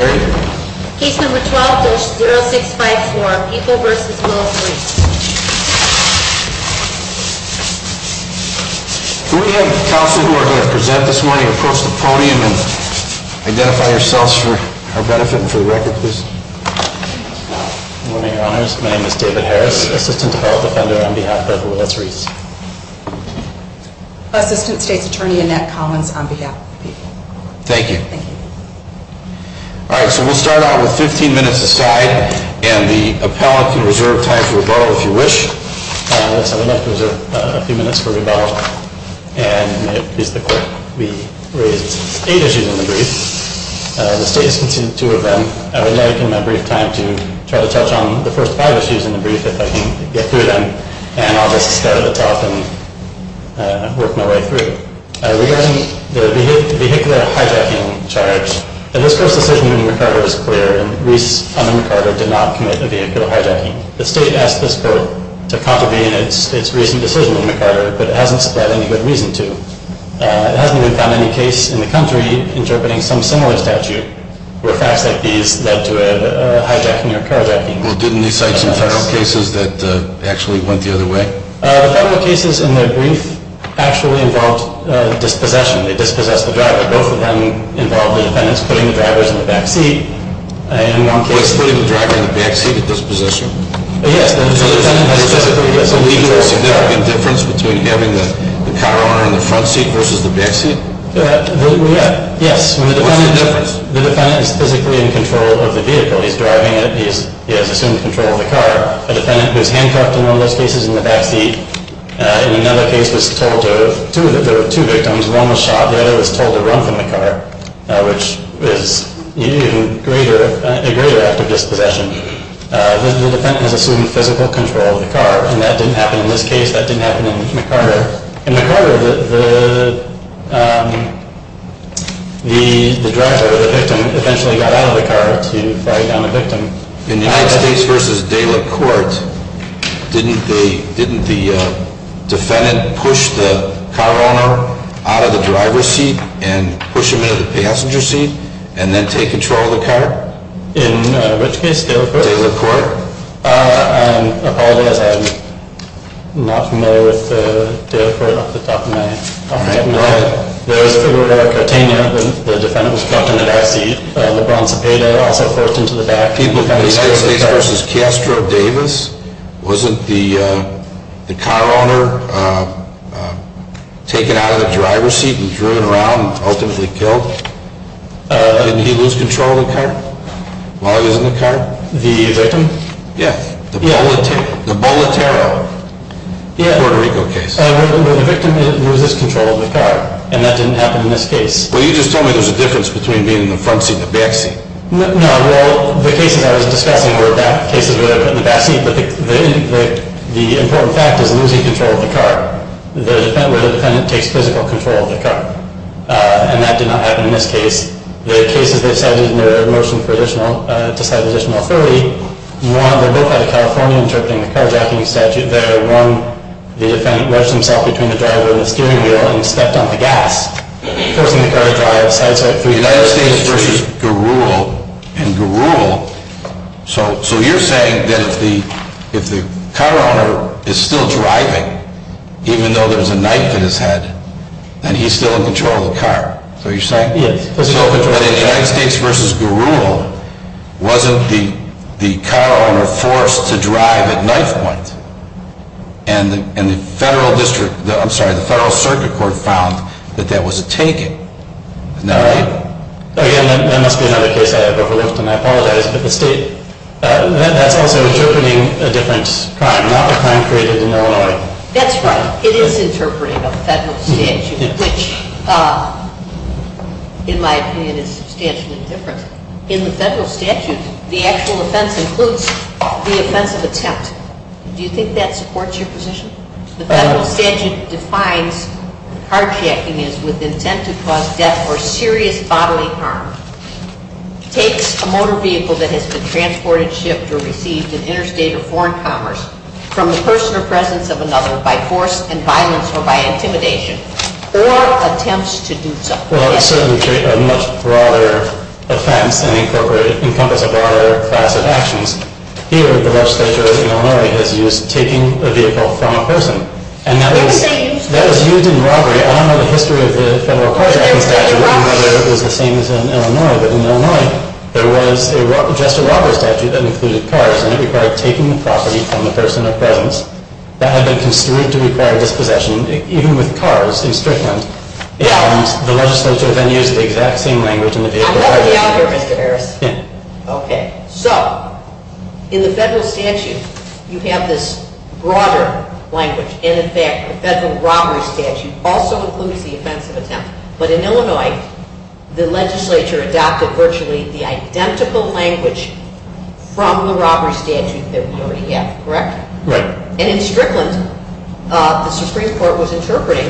Case No. 12-0654, People v. Military Can we have the counsel who are going to present this morning approach the podium and identify yourselves for our benefit and for the record, please? My name is David Harris. I'm an assistant federal defender on behalf of the military. I'm the state attorney in that Commons on behalf of the people. Thank you. All right, so we'll start out with 15 minutes aside, and we'll pause and reserve time for a vote, if you wish. I'd like to reserve a few minutes for the vote. And we have eight issues in the brief. The states contain two of them. I will now use my brief time to try to touch on the first five issues in the brief, if I can get through them. And I'll get to start at the top and work my way through. Regarding the vehicular hijacking charge, this court's decision in McArthur is clear. Reese, under McArthur, did not commit a vehicle hijacking. The state asked this court to contravene its recent decision in McArthur, but it hasn't supplied any good reason to. It hasn't even found any case in the country interpreting some similar statute where facts like these led to a hijacking or carjacking. Well, didn't you cite some federal cases that actually went the other way? The federal cases in the brief actually involved dispossession. They dispossessed the driver. Both of them involved the defendants putting the drivers in the backseat. In one case, putting the driver in the backseat was dispossession. Yes. And the defendants said it was illegal to do that. Is there a difference between having the power arm in the front seat versus the backseat? Yes. The defendant is physically in control of the vehicle. He's driving it. He has assumed control of the car. The defendant was handcuffed in all those cases in the backseat. In another case, there were two victims. One was shot and the other was told to run from the car, which is even greater after dispossession. The defendant assumed physical control of the car, and that didn't happen in this case. That didn't happen in McArthur. In McArthur, the driver, the victim, eventually got out of the car to drive down the victim. In Ritz-Case v. De La Corte, didn't the defendant push the car owner out of the driver's seat and push him into the passenger seat and then take control of the car? In Ritz-Case v. De La Corte? De La Corte. I'm not familiar with De La Corte. I'm not familiar with the documenting. All right. In Ritz-Case v. De La Corte, the defendant was handcuffed in the backseat. Lebron Tepedo also pushed into the backseat. In Ritz-Case v. De La Corte, wasn't the car owner taken out of the driver's seat and turned around and ultimately killed? Didn't he lose control of the car while he was in the car? The victim? Yes. The Boletero. Yes. The Boletero case. The victim loses control of the car, and that didn't happen in this case. Well, you just told me there's a difference between being in the front seat and the back seat. No. Well, the case involves the staffing where the cases would have been in the back seat, but the important factor is losing control of the car. The defendant takes physical control of the car, and that did not happen in this case. There are cases where it's headed in a motion to file an additional 30. In one of the booklets, California Interpreting the Car Driving Statute, the defendant left himself between the driver and the steering wheel and stepped on the gas. The United States v. Garul, so you're saying that if the car owner is still driving, even though there's a knife in his head, and he's still in control of the car. Yes. So the United States v. Garul wasn't the car owner forced to drive at that point, and the Federal Circuit Court found that that was a taking. All right. That must be another case I have. But for those who don't know, I'll follow that up with the state. That was interpreting a different time, not the time created in Illinois. That's right. It is interpreting a federal statute. Which, in my opinion, is substantially different. In the federal statute, the actual offense includes the offense of attempt. Do you think that supports your position? The federal statute defines carjacking as with intent to cause death or serious bodily harm. Take a motor vehicle that has been transported, shipped, or received in interstate or foreign commerce from the person or presence of another by force and violence or by intimidation, or attempts to do so. Well, it certainly creates a much broader offense and encompasses a broader class of actions. Here, the legislature in Illinois has used taking a vehicle from a person. And that was using robbery. I don't know the history of the federal carjacking statute, and whether it was the same in Illinois. But in Illinois, there was just a robbery statute that included cars, and it required taking the property from the person or presence. That has been construed to require dispossession, even with cars, in Strickland. And the legislature then used the exact same language in the case of Harris. Okay. So, in the federal statute, you have this broader language. And, in fact, the federal robbery statute also includes the offense of attempt. But in Illinois, the legislature adopted virtually the identical language from the robbery statute that we have. Correct? And in Strickland, the Supreme Court was interpreting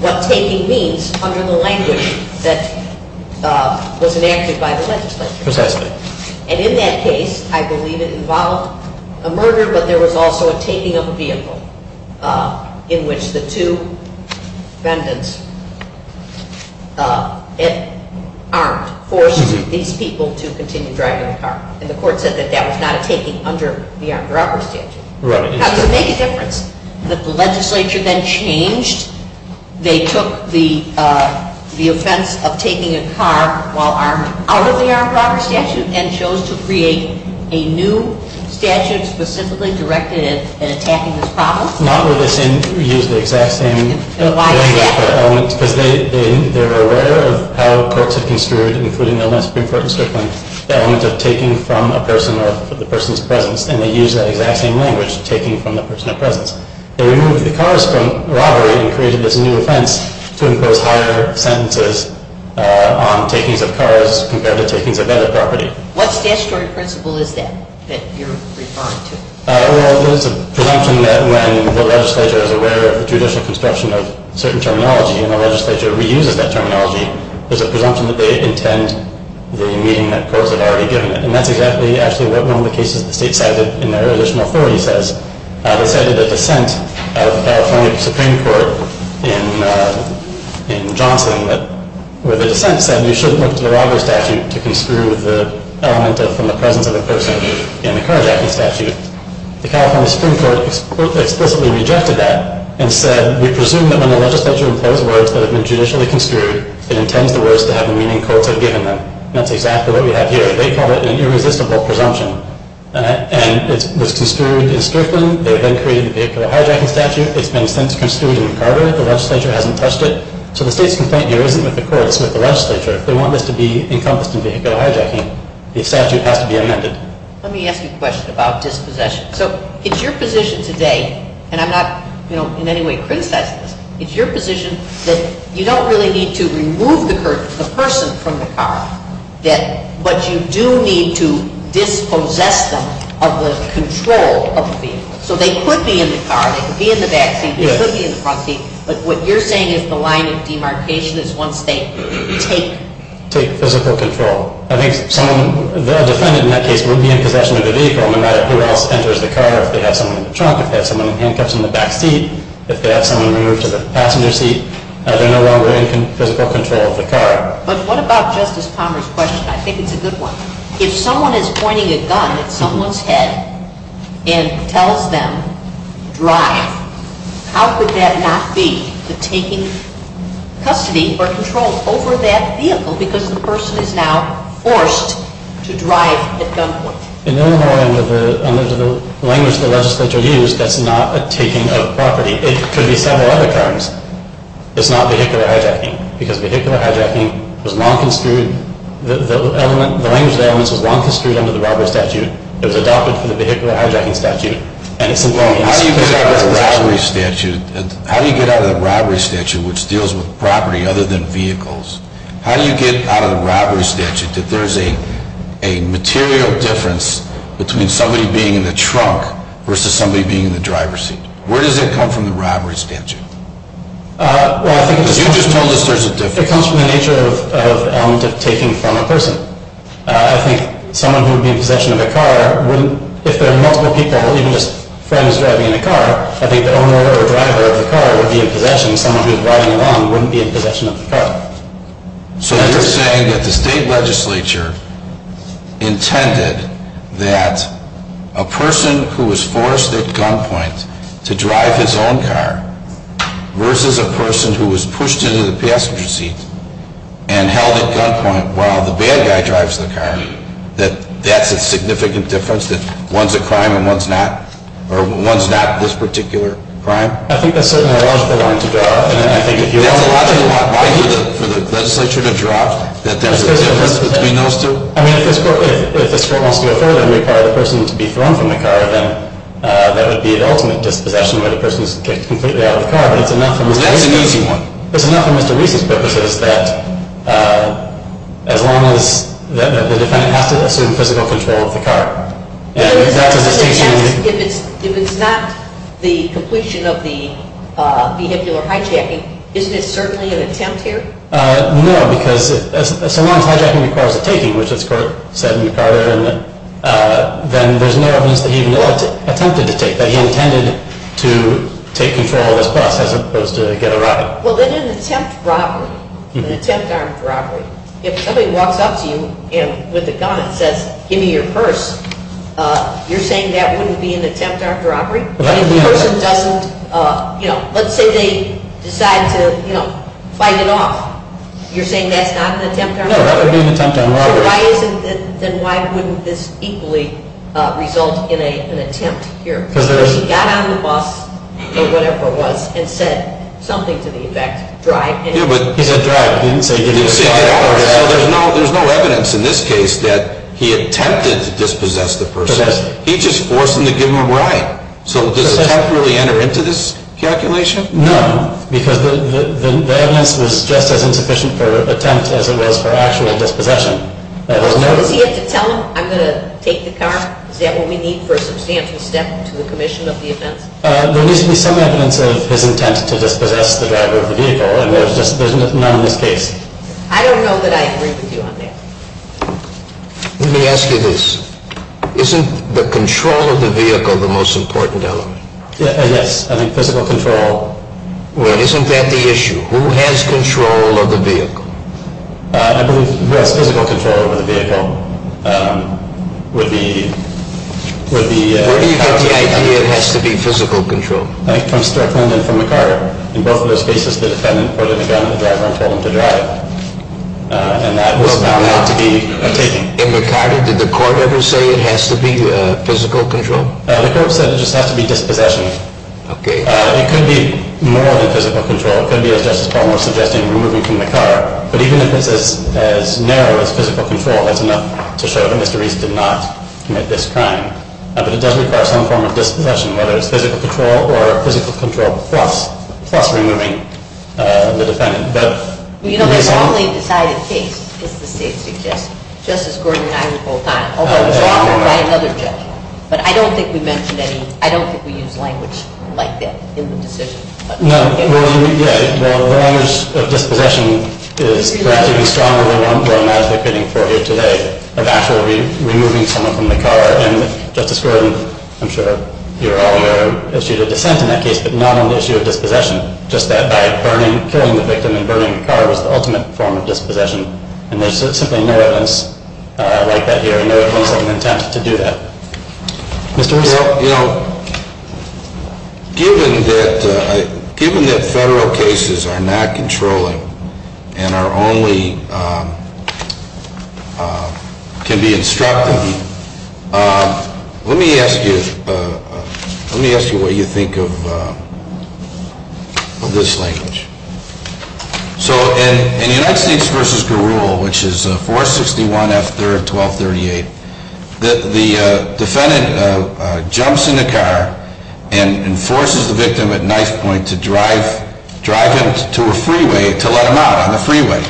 what taking means under the language that was enacted by the legislature. Precisely. And in that case, I believe it involved a murder, but there was also a taking of a vehicle, in which the two defendants armed, forced these people to continue driving the car. And the court said that that was not a taking under the armed robbery statute. Right. How does it make a difference? The legislature then changed. They took the offense of taking a car while armed out of the armed robbery statute and then chose to create a new statute specifically directed at attacking the property. Not with the same exact thing. Why not? Because they were aware of how courts in Strickland, including Illinois Supreme Court in Strickland, the element of taking from a person or the person's presence, and they used that exact same language, taking from the person of presence. They removed the cars from robbery and created this new offense to impose higher sentences on taking of cars compared to taking the bed of property. What statutory principle is that that you're responding to? Well, there's a presumption that when the legislature is aware of the judicial construction of certain terminology and the legislature reuses that terminology, there's a presumption that they intend the meaning that courts have already given them. And that's exactly as to what one of the cases the state cited in their additional court says. They cited a dissent out of the California Supreme Court in Johnson where the dissent said you shouldn't look to the robbery statute to construe the element of from the presence of a person in a carjacking statute. The California Supreme Court explicitly rejected that and said we presume that when the legislature imposes words that have been judicially construed, it intends the words to have the meaning courts have given them. And that's exactly what we have here. They call it an irresistible presumption. And it was construed in Strickland. They've been creating a vehicle hijacking statute. It's been since construed in Carver. The legislature hasn't touched it. So the state's complaint here isn't with the courts, it's with the legislature. If they want this to be encompassed in vehicle hijacking, the statute has to be amended. Let me ask you a question about dispossession. So it's your position today, and I'm not in any way criticizing this, it's your position that you don't really need to remove the person from the car, but you do need to dispossess them of the control of the vehicle. So they could be in the car, they could be in the back seat, they could be in the front seat, but what you're saying is the line you see in our cases is one-space. Take physical control. I think someone who has offended in that case would be in possession of the vehicle, no matter who else enters the car, if they have someone in the trunk, if they have someone in the handcuffs in the back seat, if they have someone removed to the passenger seat, as they're no longer in physical control of the car. But what about Justice Palmer's question? I think it's a good one. If someone is pointing a gun at someone's head and tells them, drive, how could that not be the taking of custody or control over that vehicle because the person is now forced to drive the gun away? In Illinois under the language of the legislature used, that's not a taking of property. It's when you have no other cars. It's not vehicular hijacking because vehicular hijacking is law-construed. The language there on this is law-construed under the Robert statute. There's a document for the vehicular hijacking statute. How do you get out of the robbery statute, which deals with property other than vehicles, how do you get out of the robbery statute that there's a material difference between somebody being in the trunk versus somebody being in the driver's seat? Where does that come from, the robbery statute? You just told us there's a difference. It comes from the nature of the element of taking from a person. I think someone who would be in possession of a car wouldn't, if there are multiple people, at least friends driving a car, I think that no other driver of the car would be in possession. Someone who's driving alone wouldn't be in possession of the car. So you're saying that the state legislature intended that a person who was forced at gunpoint to drive his own car versus a person who was pushed into the passenger seat and held at gunpoint while the bad guy drives the car, that that's a significant difference, that one's a crime and one's not, or one's not this particular crime? I think that's certainly a logical line to draw, and I think if you want to argue that for the legislature to draw, that there's a difference between those two. I mean, if the court wants to go further and require the person to be thrown from the car, then that would be an element of possession where the person is completely out of the car, but there's an element to read this book that says that as long as the defendant happens to be in physical control of the car. If it's not the completion of the vehicular hijacking, isn't it certainly an attempt here? No, because if someone hijacking requires a taking, which the court said in the prior amendment, then there's no evidence that he wanted to, attempted to take, that he intended to take control of this bus as opposed to get a ride. Well, this is an attempt for robbery, an attempt on robbery. If somebody walks up to you with a gun and says, give me your purse, you're saying that wouldn't be an attempt on robbery? The person doesn't, you know, let's say they decide to fight it off. You're saying that's not an attempt on robbery? No, that wouldn't be an attempt on robbery. Then why wouldn't this equally result in an attempt here? He got on the bus, or whatever it was, and said something to the effect, drive. It was drive. There's no evidence in this case that he attempted to dispossess the person. He just forced them to give him a ride. So does that really enter into this calculation? No, because the evidence was just as insufficient for an attempt as it was for actual dispossession. So if he had to tell them, I'm going to take the car, is that what we need for a substantial theft to the commission of the offense? The reason he's coming at them is his intent to dispossess the driver of the vehicle, and there's none in this case. I don't know that I agree with you on that. Let me ask you this. Isn't the control of the vehicle the most important element? Yes, I mean physical control. Well, isn't that the issue? Who has control of the vehicle? Well, physical control of the vehicle would be ____. Where do you have the idea it has to be physical control? It comes to our mind from the car. In both of those cases, the defendant put a gun on the driver and told him to drive. And that will now have to be ____. In the car, did the court ever say it has to be physical control? The court said it just has to be dispossession. It could be more than physical control. It could be a justifiable suggestion of removing from the car. But even if it's as narrow as physical control, that's enough to show that Mr. Reese did not commit this crime. But it does require some form of dispossession, whether it's physical control or physical control plus removing the defendant. You know, the only decided case in this case exists. Justice Gordon and I were both on it. Although I was also on another case. But I don't think we mentioned any ____. I don't think we used language like that in the decision. No. Well, yeah. The language of dispossession is ____. We're not advocating for it today, of actually removing someone from the car. And Justice Gordon, I'm sure you're all aware, issued a defense in that case. But not on the issue of dispossession. Just that by pulling the victim and burning the car was the ultimate form of dispossession. And there's simply no evidence like that here. And there was no form of intent to do that. Well, you know, given that federal cases are not controlled and can be instructed, let me ask you what you think of this language. So in United States v. Garul, which is 461 F. 3rd, 1238, the defendant jumps in the car and forces the victim at knife point to drive into a freeway to let him out on a freeway.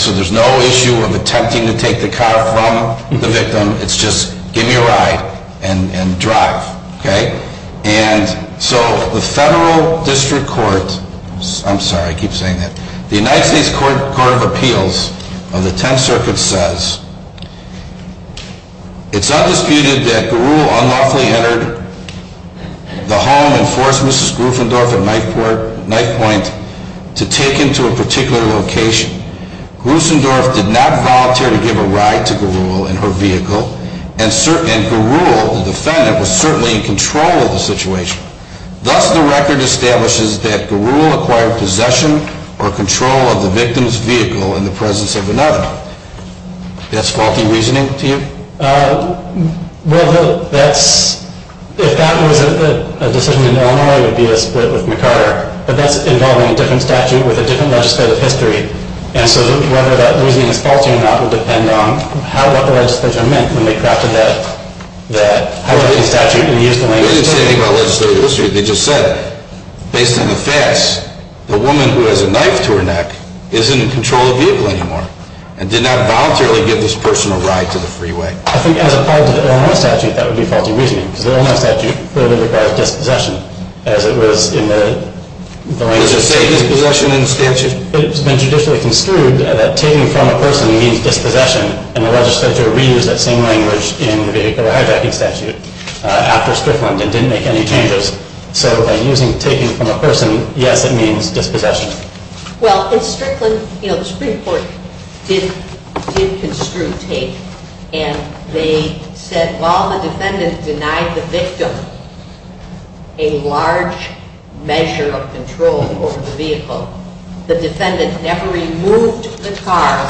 So there's no issue of attempting to take the car from the victim. It's just give me a ride and drive. And so the federal district court, I'm sorry, I keep saying that, the United States Court of Appeals of the Tenth Circuit says, it's under dispute that Garul unlawfully entered the home and forced Mrs. Gruffendorf at knife point to take him to a particular location. Gruffendorf did not voluntarily give a ride to Garul in her vehicle. And certainly, Garul, the defendant, was certainly in control of the situation. Thus, the record establishes that Garul acquired possession or control of the victim's vehicle in the presence of another. Is that faulty reasoning to you? Well, look, that's the fact that, as I said, there was no inalienable dispute with McCarter. But that's involving a different statute with a different legislative history. And so whether that reasoning is faulty or not will depend on what the legislature meant when they crafted that. How does the legislature view the statute? They didn't say any legislative history. They just said, based on the facts, the woman who has a knife to her neck isn't in control of the vehicle anymore and did not voluntarily give this person a ride to the freeway. I think as a part of the fair enough statute, that would be faulty reasoning. Fair enough statute clearly requires different possession as it was in the statute. In the statute, it's been judicially construed that taking from a person means dispossession, and the legislature reused that same language in the Harbeck statute after Strickland and didn't make any changes. So by using taking from a person, yes, it means dispossession. Well, in Strickland, you know, the Supreme Court did construe take, and they said while the defendant denied the victim a large measure of control over the vehicle, the defendant never removed the car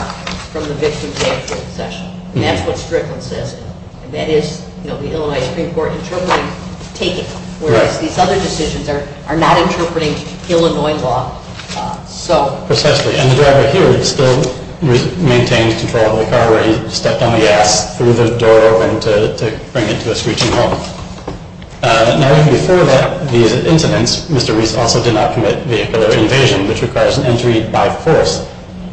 from the victim's vehicle. And that's what Strickland says. And that is, you know, the Illinois Supreme Court determined take, whereas these other decisions are not interpreting Illinois law. And the driver here still maintains control of the car and stepped on the gas through the door and to bring it to a screeching halt. Now, before that, the incident, Mr. Reese also did not commit vehicle invasion, which requires an entry by force.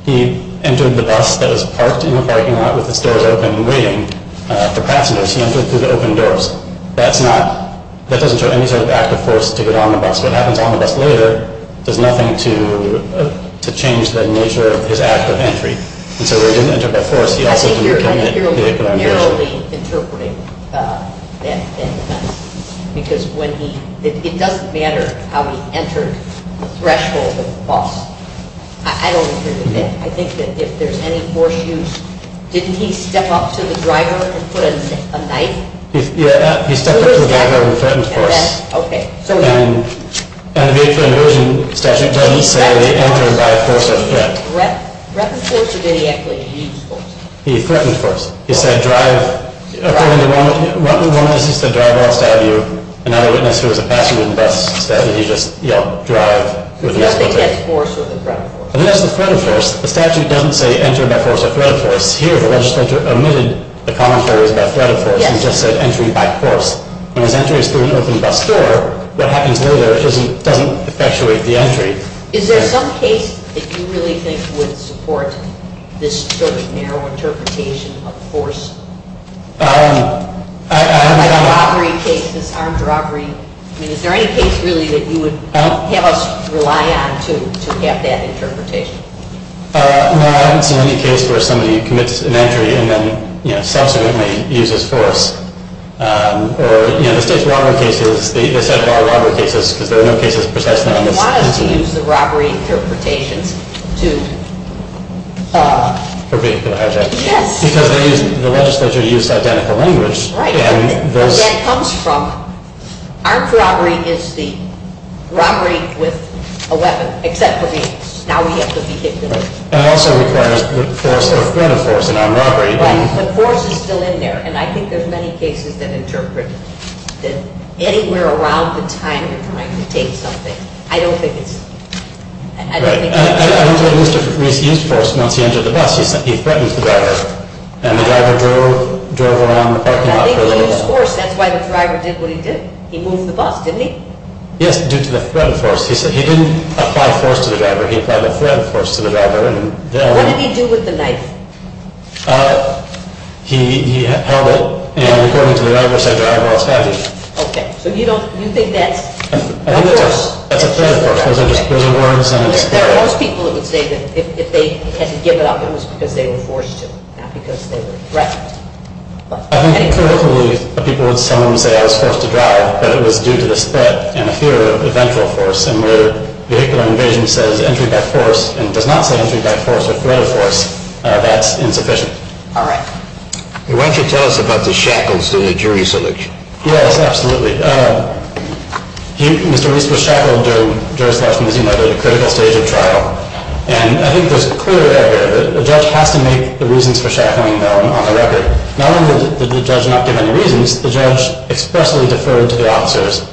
He entered the bus that was parked in the parking lot with the doors open and waiting for passengers. He entered through the open doors. That doesn't show any sort of active force to get on the bus. What happens on the bus later does nothing to change the nature of his act of entry. And so he didn't enter by force. He entered through the open doors. I'm curious how he interprets that, because it doesn't matter how he entered the threshold of the bus. I don't hear the difference. I think that if there's any more issues, didn't he step up to the driver and put a knife? Yeah, he stepped up to the driver and put a knife. Okay. And the original statute doesn't say that he entered by force of threat. Threaten force or did he enter through the ease force? Threaten force. He said drive, according to Ronald's system, drive outside of your, in other words, let's say it was a passenger in the bus, that would be just, you know, drive. So that's a threat force or a threat force? That's a threat force. The statute doesn't say enter by force of threat force. Here, the legislature omitted the commentary about threat force and just said entry by force. When an entry is through an open bus door, what happens later doesn't perpetuate the entry. Is there some case that you really think would support this sort of narrow interpretation of force? Armed robbery case, armed robbery. I mean, is there any case really that you would have us rely on to get that interpretation? No, I haven't seen any case where somebody commits an entry and then, you know, subsequently uses force. Or, you know, just one of the cases, it's not that I want to get this, there are no cases for that kind of thing. Why don't you use the robbery interpretation to prevent that? Because the legislature used that language. Right. And that comes from armed robbery is the robbery with a weapon, except for the, now we have the vehicle. And also requires force or threat of force in armed robbery. The force is still in there. And I think there are many cases that interpret this. Anywhere around this time, I can take something. I don't think... I think they used force once he entered the bus. He threatened the driver. And the driver drove around the parking lot. He used force, that's why the driver did what he did. He moved the bus, didn't he? Yes, due to the threat of force. He didn't apply force to the driver. He applied the threat of force to the driver. What did he do with the knife? He held it and according to the driver, said, Driver, I'll stab you. Okay. So you don't, you think that... I think it was a threat of force. There are most people who would say that if they had given up, it was because they were forced to, not because they were threatened. I think, typically, people would tell him, say, I was supposed to drive, but it was due to the threat and fear of potential force. And where vehicular invasion says, enter by force, and it does not say enter by force or threat of force, that's insufficient. All right. Why don't you tell us about the shackles to the jury syllage? Yes, absolutely. Mr. Reese was shackled during jurisprudence in other criminal cases of trial. And I think there's a clear error. The judge has to make the reasons for shackling on the record. Not only did the judge not give any reasons, the judge expressly deferred to the officers.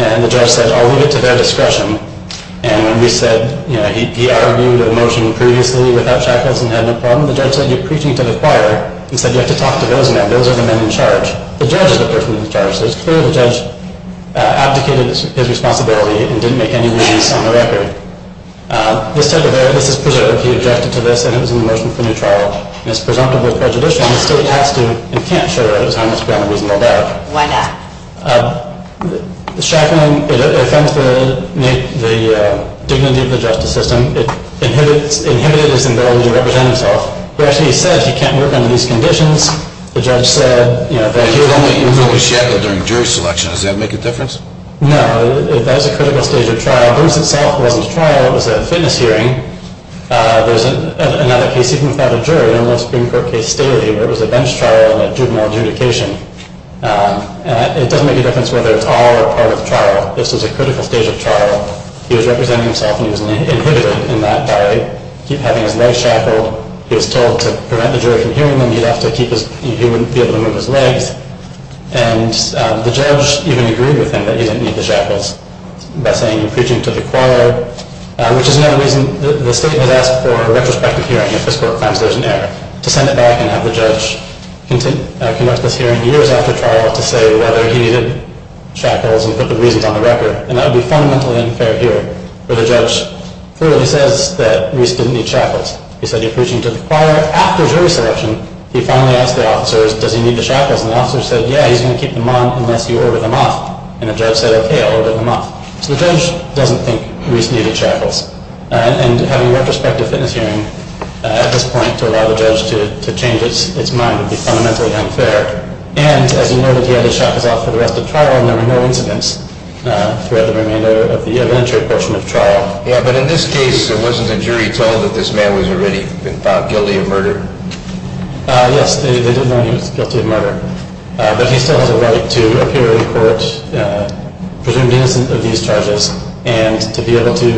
And the judge said, oh, we'll get to their discussion. And we said, you know, he argued a motion previously without shackles and had no problem. The judge said, you're preaching to the choir. He said, you have to talk to those members. Those are the men in charge. The judge is the person in charge. So it's clear the judge abdicated his responsibility and didn't make any reasons on the record. There's a clear error. This is presumptively adjusted to this, and it is in the motion for new trial. And it's presumptively prejudicial, and it still has to and can't show that it was harmless crime Why not? Shackling, it attempts to make the dignity of the justice system. It inhibits its ability to represent itself. But actually, it says you can't work under these conditions. The judge said, you know, that you're the only individual who shackled during the jury selection. Does that make a difference? No. That's a critical stage of trial. This itself wasn't a trial. It was a witness hearing. There was another case, even without a jury, almost in court case theory. There was a bench trial and a juvenile adjudication. It doesn't make a difference whether it's all or part of the trial. This is a critical stage of trial. He was representing himself, and he was an individual in that area. He kept having his leg shackled. He was told to prevent the jury from hearing him. He'd have to keep his feet as long as his leg. And the judge even agreed with him that he didn't need the shackles by saying he was preaching to the choir, which is another reason the state had asked for a retrospective hearing if this court finds there's an error, to send it back and have the judge conduct this hearing years after trial to say whether he needed shackles and put the reasons on the record. And that would be fundamentally unfair here, where the judge clearly says that Reese didn't need shackles. He said he was preaching to the choir. After jury selection, he finally asked the officers, does he need the shackles? And the officers said, yeah, he's going to keep them on unless you order them up. And the judge said, okay, I'll order them up. So the judge doesn't think Reese needed shackles. And having a retrospective finish hearing at this point could allow the judge to change its mind and be fundamentally unfair. And, as you know, the judge shot the prosecutor after trial and there were no incidents throughout the remainder of the eventual portion of trial. Yeah, but in this case, there wasn't a jury telling that this man was already been found guilty of murder. Yes, they didn't want him guilty of murder. But he still has a right to appear in court, presumed innocent of these charges, and to be able to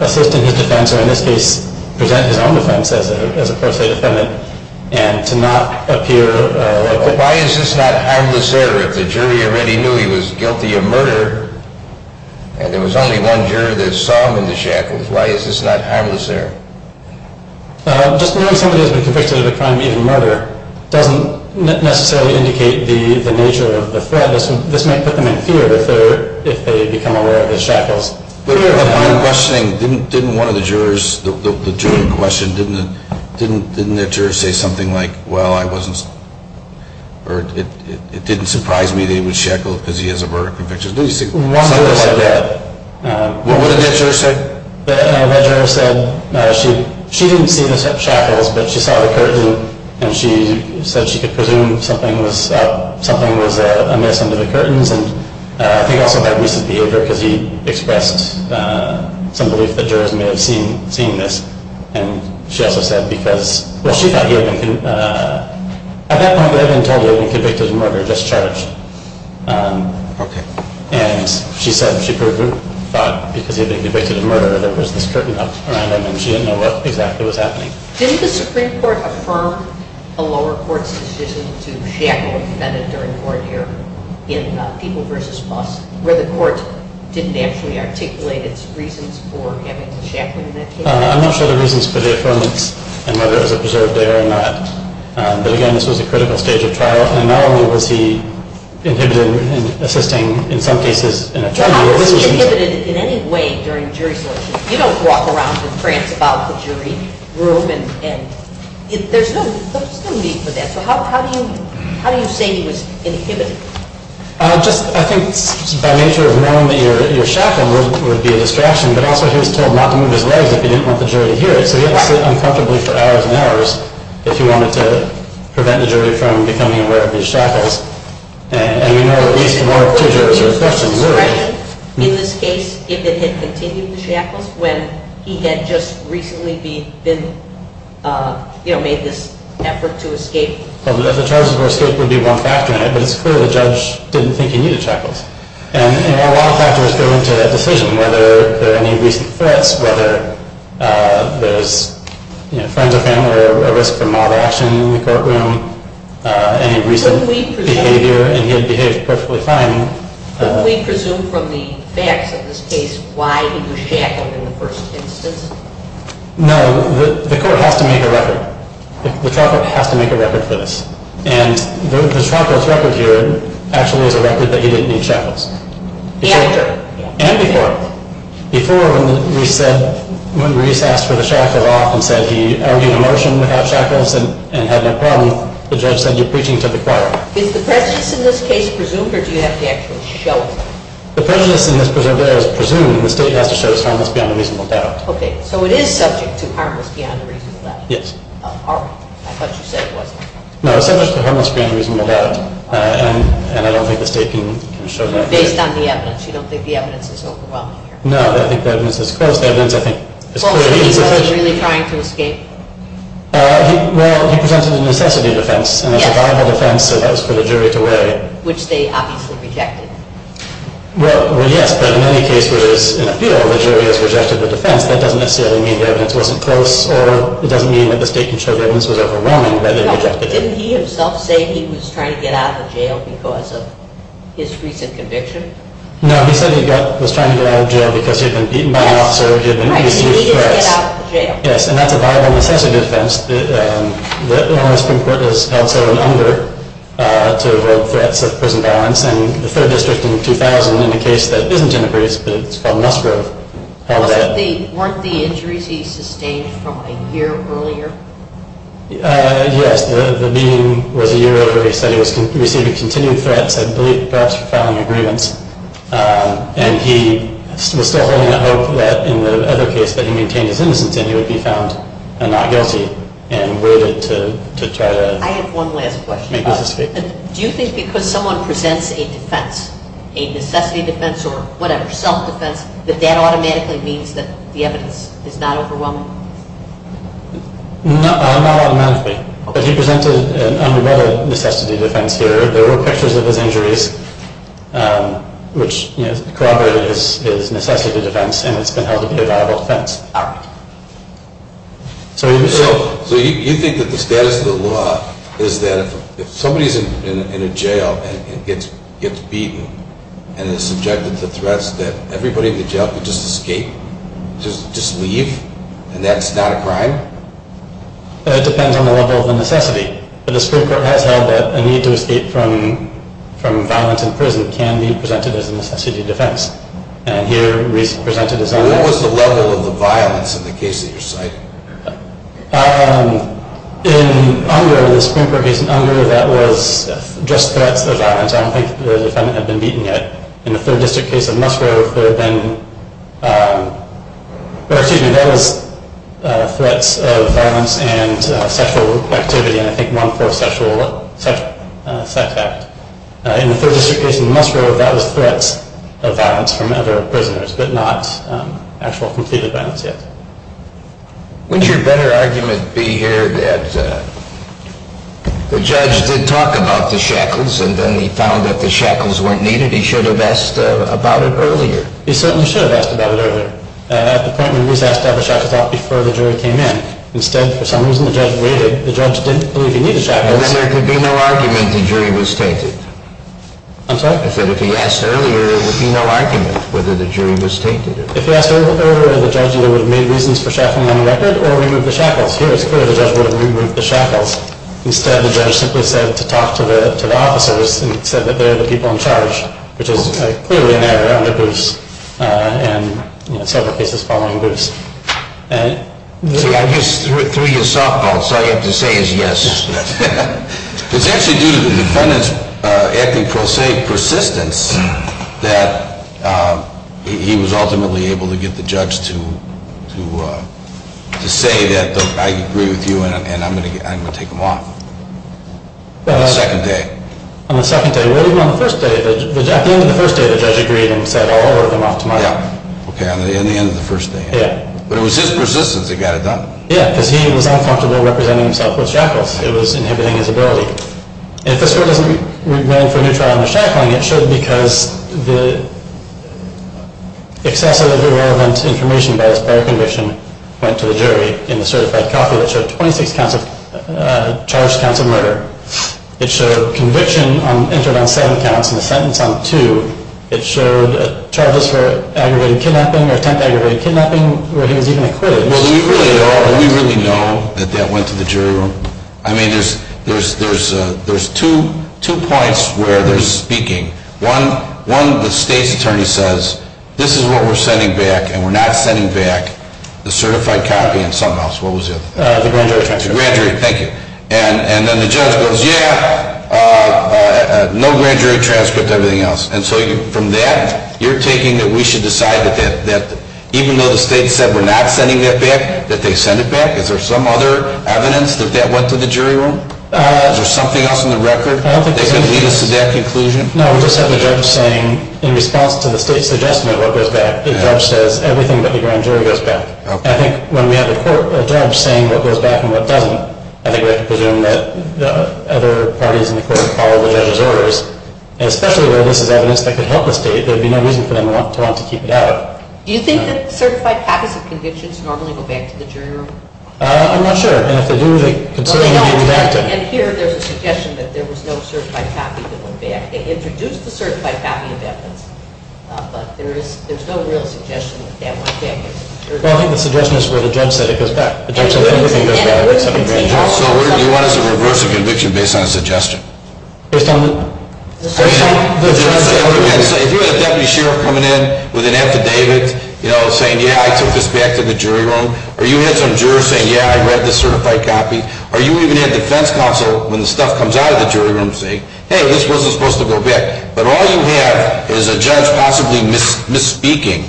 assist in his defense, or in this case, present his own defense as a court-suited defendant, and to not appear. But why is this not hapless there? If the jury already knew he was guilty of murder, and there was only one jury that saw him in the shackles, why is this not hapless there? Just knowing someone who has been convicted of a crime of being a murderer doesn't necessarily indicate the nature of the threat. This may put them in fear if they become aware of his shackles. But I'm just saying, didn't one of the jurors, the jury in question, didn't their juror say something like, well, it didn't surprise me that he was shackled because he has a murder conviction. One juror said that. What did that juror say? That, in my judgment, she didn't see the shackles, but she saw the curtain, and she said she could presume something was amiss under the curtains, and he also had recent behavior because he expressed some belief that jurors may have seen this. And she also said because, well, she thought he had been, at that point the evidence told her he had been convicted of murder and discharged. And she said that her group thought because he had been convicted of murder that there was this curtain up around him, and she didn't know what exactly was happening. Didn't the Supreme Court affirm a lower court's decision to shackle, and that is very important here, in People v. Laws, where the court didn't actually articulate its reasons for having the shackles? I'm not sure the reasons for the affirmance and whether it was observed there or not. But, again, this was a critical stage of trial, and not only was the individual assisting in some cases in a particular way. But it was inhibited in any way during jury selection. You don't walk around and rant about the jury room, and there's no need for that. So how do you say it was inhibited? I think, by nature of knowing that you were shackled, it would be a distraction, but also he was told not to move his legs if he didn't want the jury to hear it. So he acted uncomfortably for hours and hours if he wanted to prevent the jury from becoming aware of his shackles. And we know that these moral triggers are especially lurking. In this case, if it had continued shackles, when he had just recently been, you know, made this effort to escape? Well, the charges were still to be brought back to him, but it's clear the judge didn't think he needed shackles. And, you know, a lot of factors go into a decision, whether there are any recent threats, whether there's, you know, friends or family, or a risk of mild action in the courtroom, any recent behavior, and he had behaved perfectly fine. Can we presume from the facts of this case why he was shackled in the first instance? No, the court has to make a record. The conference has to make a record for this. And the conference record here actually is a record that he didn't need shackles. And before. And before. Before, when we said, when we asked for the shackle off and said he argued a motion without shackles and had no problem, the judge said, you're preaching to the crowd. Is the premise in this case presumed, or do you have to actually show it? The premise in this presumption is presumed, and the state has to show it's harmless beyond a reasonable doubt. Okay, so it is subject to harmless beyond a reasonable doubt. Yes. I thought you said it wasn't. No, it's not just a harmless beyond a reasonable doubt. And I don't think the state can show that. But based on the evidence, you don't think the evidence was overwhelming? No, I think the evidence is close. That is, I think, What were you really trying to escape? Well, he presented a necessity defense, and a survival defense, so that was for the jury to weigh. Which they obviously rejected. Well, yes, but in many cases, in a field where the jury has rejected the defense, that doesn't necessarily mean the evidence wasn't close or it doesn't mean that the state can show the evidence was overwhelming. Didn't he himself say he was trying to get out of jail because of his recent conviction? No, he said he was trying to get out of jail because he had been beaten by an officer, or he had been injured. Right, he needed to get out of jail. Yes, and that's a survival necessity defense. The Lawrence Supreme Court has held him under to a world threat for prison violence, and the third district in 2000, in a case that isn't in a brief, but it's called Musgrove. Weren't the injuries he sustained from a year earlier? Yes, the meeting was a year earlier. He said he was receiving continued threats. I believe threats from agreements, and he was still holding out hope that in the other case that he contained a prison sentence, he would be found not guilty, and waited to try that. I have one last question. Do you think because someone presents a defense, a necessity defense or whatever, self-defense, that that automatically means that the evidence is not overwhelming? No, not automatically. He presented an underrated necessity defense. There were pictures of his injuries, which corroborated his necessity defense, and it's been held to be a viable defense. So you think that the status of the law is that if somebody's in a jail and gets beaten, and is subjected to threats, that everybody in the jail can just escape, just leave, and that it's not a crime? It depends on the level of necessity. The Supreme Court has held that a need to escape from violence in prison can be presented as a necessity defense. And here, we've presented as underrated. What was the level of the violence in the case that you're citing? In Unger, the Supreme Court did an Unger that was just threats for violence. I don't think the defendant had been beaten yet. In the 3rd District case of Musgrove, there were then, excuse me, those threats of violence and sexual activity, and I think non-pro-sexual sex acts. In the 3rd District case of Musgrove, that was threats of violence from other prisoners, but not actual complete violence yet. Wouldn't your better argument be here that the judge did talk about the shackles and then he found that the shackles weren't needed? He should have asked about it earlier. He certainly should have asked about it earlier. At the point when he was asked about the shackles, that was before the jury came in. Instead, for some reason, the judge didn't believe he needed the shackles. Then there could be no argument if the jury was stated. I'm sorry? I said if he asked earlier, there would be no argument whether the jury was stated. If he asked earlier, the judge knew there were many reasons for shackling the record, or removing the shackles. Here, it's clear the judge knew whether he removed the shackles. Instead, the judge simply said to talk to the officers and said that they were the people in charge, which is clearly in their groups and several cases following groups. I'm just through your softball, so all you have to say is yes. The judge is either independent, acting pro se, persistent, that he was ultimately able to get the judge to say that I agree with you and I'm going to take him on. On the second day. On the second day. Well, even on the first day, at the end of the first day, the judge agreed and said, I'll work him off tomorrow. Okay, in the end of the first day. Yeah. But it was his persistence that got it done. Yeah, because he was not responsible representing himself with shackles. It was inhibiting his ability. If this was a remand for neutral on the shackling, it should be because the excessive or irrelevant information about his prior conviction went to the jury in a certified copy that showed 26 charged counts of murder. It showed conviction on interim on seven counts and a sentence on two. It showed charges for aggravated kidnapping or attempted aggravated kidnapping where he was even acquitted. Well, we really know that that went to the jury room. I mean, there's two points where they're speaking. One, the state's attorney says, this is what we're sending back and we're not sending back the certified copy in some house. What was it? The grand jury transcript. The grand jury, thank you. And then the judge goes, yeah, no grand jury transcript, everything else. And so from that, you're taking that we should decide that even though the state said we're not sending it back, that they send it back? Is there some other evidence that that went to the jury room? Is there something else in the record that can lead us to that conclusion? No, we just have the judge saying, in response to the state's adjustment of what goes back, the judge says everything but the grand jury goes back. And I think when we have a judge saying what goes back and what doesn't, I think we have to presume that other parties in the court are following that as always. And especially where this is evidence that could help us do it, there would be no reason for them to want to keep it out. Do you think that certified copies of convictions normally go back to the jury room? I'm not sure. And here there's a suggestion that there was no certified copy that went back. They introduced the certified copy of evidence, but there's no real suggestion that that went back. Well, I think the suggestion is for the judge that it goes back. The judge says everything goes back. So you want us to reverse a conviction based on a suggestion? Based on the... Based on the... If you had a deputy sheriff coming in with an affidavit, saying, yeah, I took this back to the jury room, or you had some jury saying, yeah, I read the certified copy, or you even had defense counsel, when the stuff comes out of the jury room, saying, hey, this wasn't supposed to go back, but all you had is a judge possibly misspeaking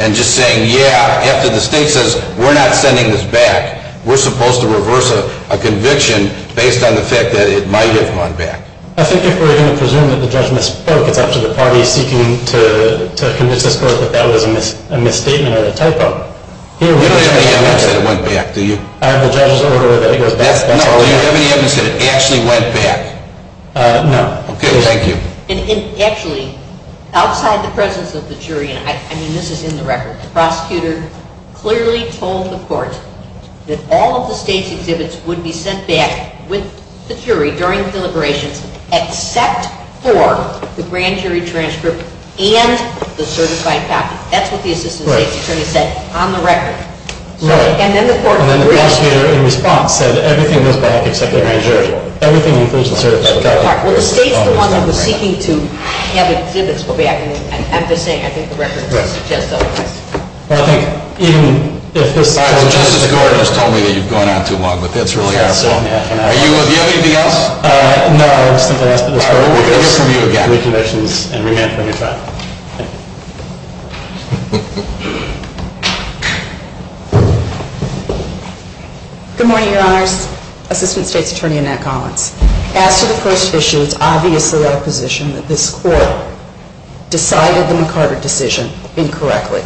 and just saying, yeah, after the state says, we're not sending this back, we're supposed to reverse a conviction based on the fact that it might have gone back. I think if we're going to presume that the judge misspoke about to the party seeking to commit the code that that was a misstatement or a typo... You don't have any evidence that it went back, do you? I have the judge's order that it goes back. No, you don't have any evidence that it actually went back? No. Okay, thank you. Actually, outside the presence of the jury, I mean, this is in the record, the prosecutor clearly told the court that all of the state's exhibits would be sent back with the jury during deliberations except for the grand jury transcript and the certified copy. That's what the assistant state attorney said on the record. Right. And then the court... And then the grand jury in response says everything went back except the grand jury. Everything includes the certified copy. All right, well, the state's the one that was seeking to have the exhibits go back. I'm just saying, I think the record says so. Well, thank you. The court has told me that you've gone on too long, but that's really all I'm saying. Do you have anything else? No, that's all I have to say. We'll hear from you again. Good morning, Your Honor. Assistant state attorney, Annette Collins. As to the first issue, it's obviously our position that this court decided the McCarter decision incorrectly.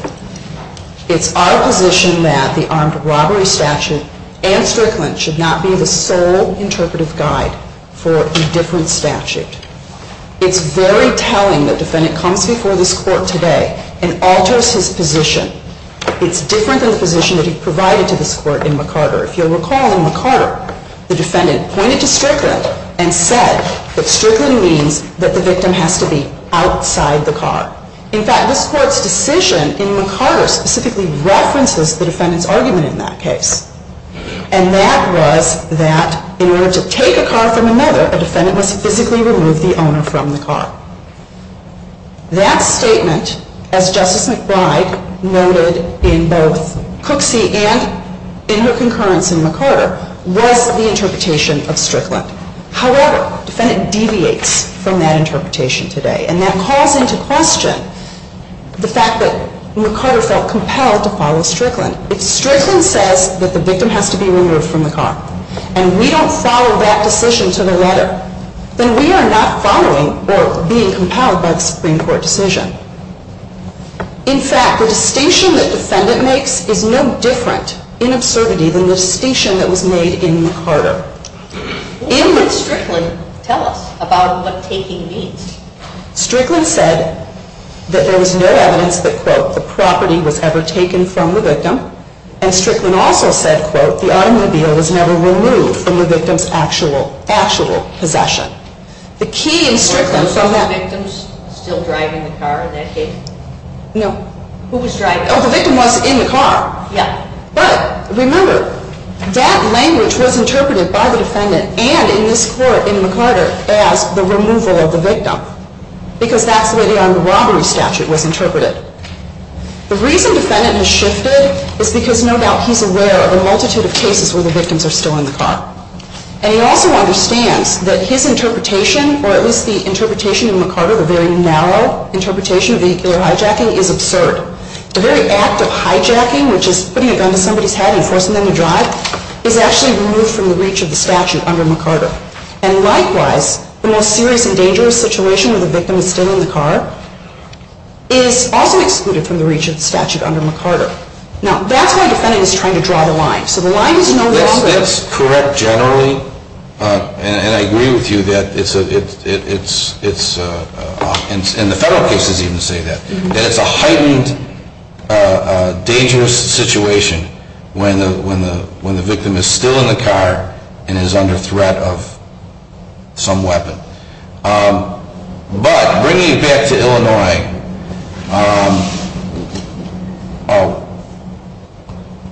It's our position that the armed robbery statute and Strickland should not be the sole interpretive guide for a different statute. It's very telling that the defendant comes before this court today and alters his position. It's different than the position that he provided to this court in McCarter. If you'll recall, in McCarter, the defendant pointed to Strickland and said that Strickland means that the victim has to be outside the car. In fact, this court's decision in McCarter specifically references the defendant's argument in that case. And that was that in order to take a car from another, a defendant must physically remove the owner from the car. That statement, as Justice McBride noted in both Cooksey and in her concurrence in McCarter, was the interpretation of Strickland. However, the defendant deviates from that interpretation today. And that calls into question the fact that McCarter felt compelled to follow Strickland. If Strickland says that the victim has to be removed from the car, and we don't follow that position to the letter, then we are not following or being compelled by the Supreme Court's decision. In fact, the distinction the defendant makes is no different in absurdity than the distinction that was made in McCarter. What did Strickland tell us about what taking means? Strickland said that there was no evidence that, quote, the property was ever taken from the victim. And Strickland also said, quote, the automobile was never removed from the victim's actual possession. The key in Strickland's argument is that the victim was still driving the car in that case. No. Who was driving? Oh, the victim was in the car. Yes. But remember, that language was interpreted by the defendant and in this court in McCarter as the removal of the victim, because that's the way the robbery statute was interpreted. The reason the defendant has shifted is because, no doubt, he's aware of a multitude of cases where the victims are still in the car. And he also understands that his interpretation, or at least the interpretation of McCarter, the very narrow interpretation of their hijacking, is absurd. The very act of hijacking, which is putting a gun to somebody's head and forcing them to drive, is actually removed from the reach of the statute under McCarter. And likewise, the more serious and dangerous situation where the victim is still in the car is also excluded from the reach of the statute under McCarter. Now, that's why the defendant is trying to draw the line. So the line is no doubt this. Isn't this correct generally? And I agree with you that it's, and the court cases even say that. That it's a highly dangerous situation when the victim is still in the car and is under threat of some weapon. But bringing it back to Illinois,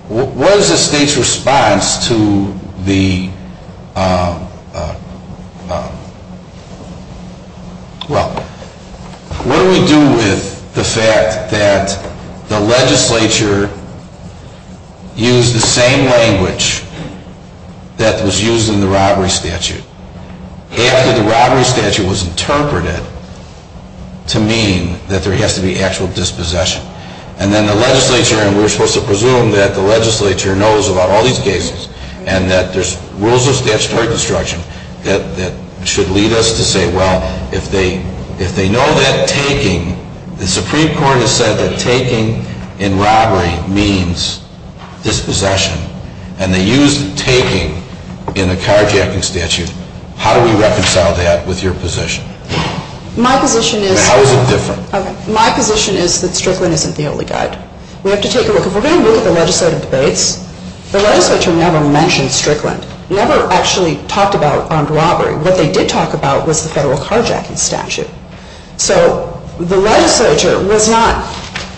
what is the state's response to the, well, what do we do with the fact that the legislature used the same language that was used in the robbery statute? And that the robbery statute was interpreted to mean that there has to be actual dispossession. And then the legislature, and we're supposed to presume that the legislature knows about all these cases and that there's rules of statutory construction that should lead us to say, well, if they know that taking, the Supreme Court has said that taking in robbery means dispossession. And they use taking in the car-jamping statute. How do we reconcile that with your position? My position is... How is it different? My position is that Strickland isn't the only guy. We have to take a look. If we're going to look at the legislative debates, the legislature never mentioned Strickland. Never actually talked about armed robbery. What they did talk about was the federal car-jamping statute. So the legislature was not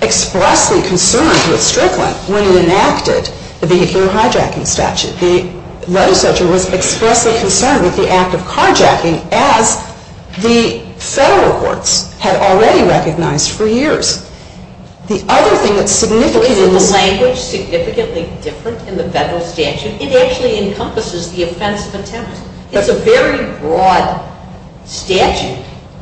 expressly concerned with Strickland when it enacted the vehicular car-jamping statute. The legislature was expressly concerned with the act of car-jamping as the federal courts had already recognized for years. The other thing that's significantly... The language is significantly different in the federal statute because it actually encompasses the offense of attempt. It's a very broad statute.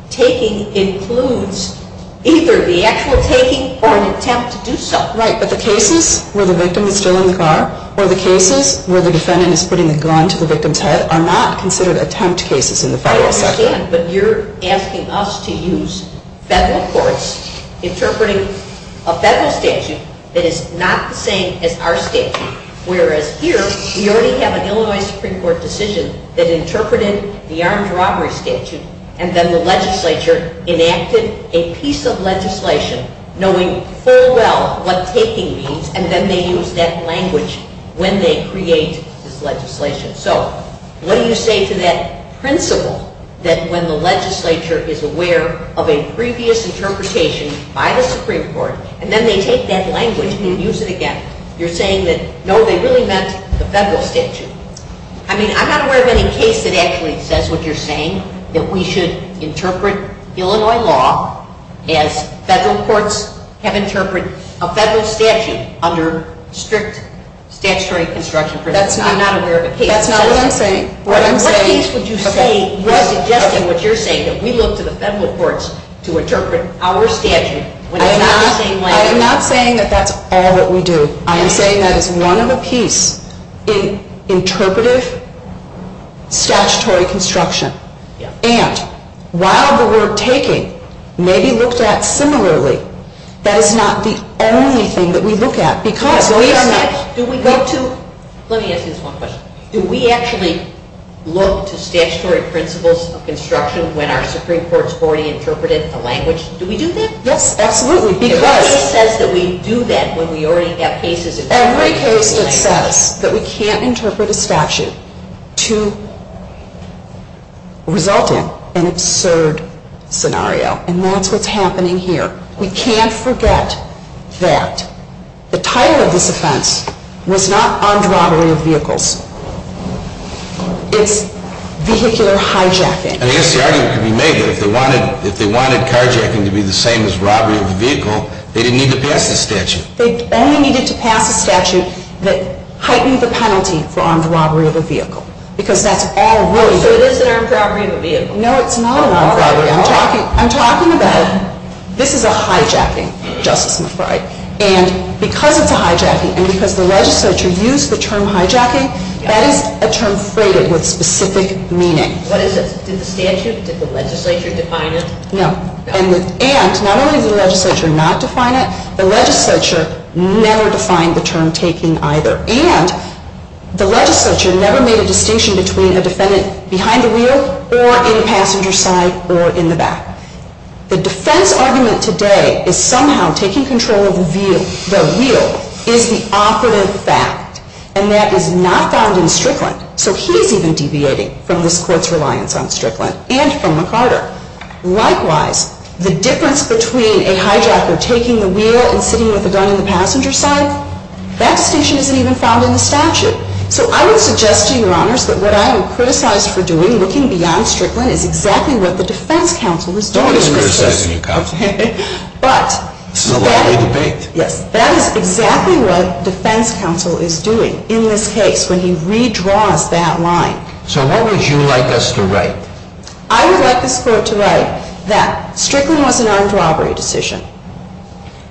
Taking includes either the actual taking or an attempt to do so. Right, but the cases where the victim is still in the car or the cases where the defendant is putting a gun to the victim's head are not considered attempt cases in the federal statute. I understand, but you're asking us to use federal courts interpreting a federal statute that is not the same as our statute, whereas here we already have an Illinois Supreme Court decision that interpreted the armed robbery statute and then the legislature enacted a piece of legislation knowing very well what taking means and then they use that language when they create legislation. So what do you say to that principle that when the legislature is aware of a previous interpretation by the Supreme Court and then they take that language and use it again? You're saying that, no, they really meant the federal statute. I mean, I'm not aware of any case that actually says what you're saying, that we should interpret Illinois law as federal courts have interpreted a federal statute under strict statutory construction. I'm not aware of a case... That's not what I'm saying. What case would you say... You're suggesting what you're saying, that we look to the federal courts to interpret our statute when it's not the same language. I'm not saying that that's all that we do. I'm saying that it's one of a piece in interpretive statutory construction. And while the word taking maybe looks at similarly, that is not the only thing that we look at, because we are not... Let me ask you this one question. Do we actually look to statutory principles of construction when our Supreme Court's already interpreted a language? Do we do that? Yes, absolutely. It says that we do that when we already have cases... Every case that says that we can't interpret a statute to result in an absurd scenario, and that's what's happening here. We can't forget that. The title of this offense was not armed robbery of vehicles. It's vehicular hijacking. If they wanted carjacking to be the same as robbery of a vehicle, they didn't need to pass the statute. They only needed to pass a statute that heightens the penalty for armed robbery of a vehicle, because that's all really... So it is an armed robbery of a vehicle. No, it's not an armed robbery of a vehicle. I'm talking about... This is about hijacking, Justice McBride. And because it's a hijacking, and because the legislature used the term hijacking, that is a term separated with specific meaning. What is it? Is it statute? Did the legislature define it? No. And not only did the legislature not define it, the legislature never defined the term taking either. And the legislature never made a distinction between a defendant behind the wheel or in passenger's side or in the back. The defense argument today is somehow taking control of the wheel is the operative fact, and that is not found in the Strictly. So he's even deviating from this court's reliance on Strictly and from McCarter. Likewise, the difference between a hijacker taking the wheel and putting the gun in the passenger's side, that distinction isn't even found in the statute. So I would suggest to your honors that what I would criticize for doing, looking beyond Strictly, is exactly what the defense counsel is doing. Somebody's criticizing you, Counsel. But... It's not like we debate. Yes. That is exactly what defense counsel is doing in this case when he redraws that line. So what would you like us to write? I would like this court to write that Strictly was an armed robbery decision.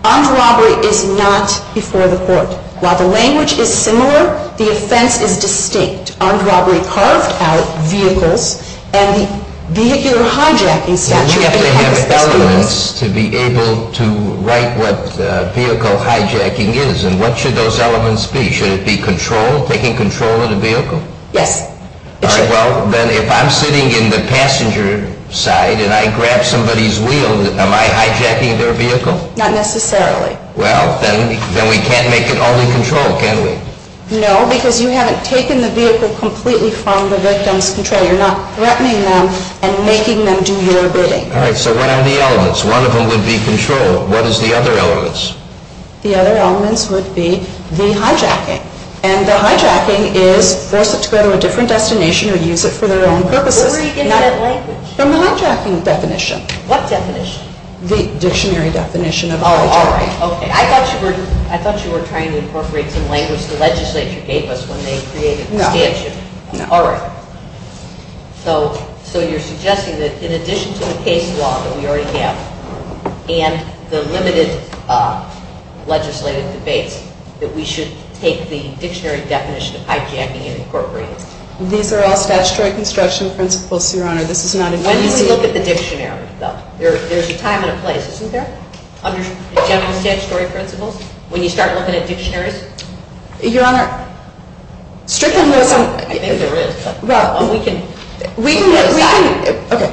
Armed robbery is not before the court. While the language is similar, the offense is distinct. Armed robbery parked out vehicles and the vehicular hijacking statute... You have to have elements to be able to write what vehicle hijacking is, and what should those elements be? Should it be control, taking control of the vehicle? Yes. All right, well, then if I'm sitting in the passenger's side and I grab somebody's wheel, am I hijacking their vehicle? Not necessarily. Well, then we can't make it all in control, can we? No, because you haven't taken the vehicle completely from the victim's control. You're not threatening them and making them do their bidding. All right, so what are the elements? One of them would be control. What is the other elements? The other elements would be the hijacking. And the hijacking is they're supposed to go to a different destination and use it for their own purposes. From the hijacking definition. What definition? The dictionary definition. Oh, all right. I thought you were trying to incorporate some language the legislature gave us when they created the statute. All right. So you're suggesting that in addition to the case law that we already have and the limited legislative debate that we should take the dictionary definition of hijacking and incorporate it? These are all statutory construction principles, Your Honor. This is not a dictionary. Then you can look at the dictionaries, though. There's a time and a place, isn't there? Under the definition of statutory principles, when you start looking at dictionaries. Your Honor, strictly... I think there is something. Well, we can... Okay.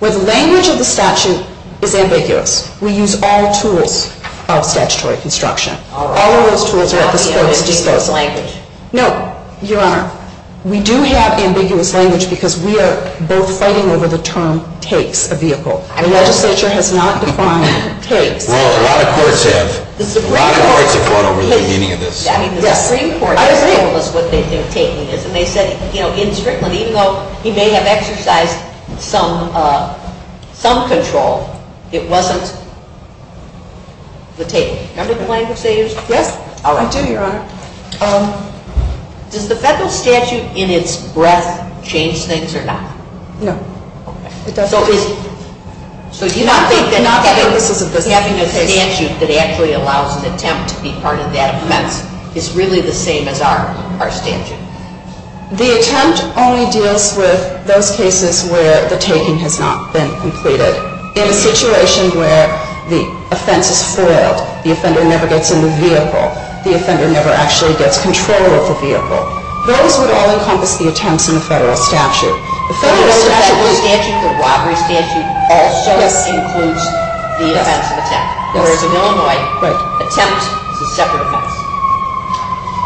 Well, the language of the statute is ambiguous. We use all tools of statutory construction. All right. All of those tools are at the same time. No, Your Honor. We do have ambiguous language because we are both fighting over the term takes a vehicle. Our legislature has not defined takes. Well, a lot of courts have. A lot of courts have gone over the meaning of this. Yeah. I agree. ...what they think taking is. And they said, you know, in strict legal... He may have exercised some control. It wasn't the take. Is that what you're trying to say? Yes. I do, Your Honor. Does the federal statute in its breadth change things or not? No. It doesn't. So you're not saying that having a statute that actually allows an attempt to be part of that method is really the same as our statute? The attempt only deals with those cases where the takings have not been completed. In a situation where the offender spoils, the offender never gets in the vehicle, the offender never actually gets control of the vehicle, those would all encompass the attempts in the federal statute. The federal statute would add to the block. The statute also includes the events of the past. So there's no more attempt to separate them.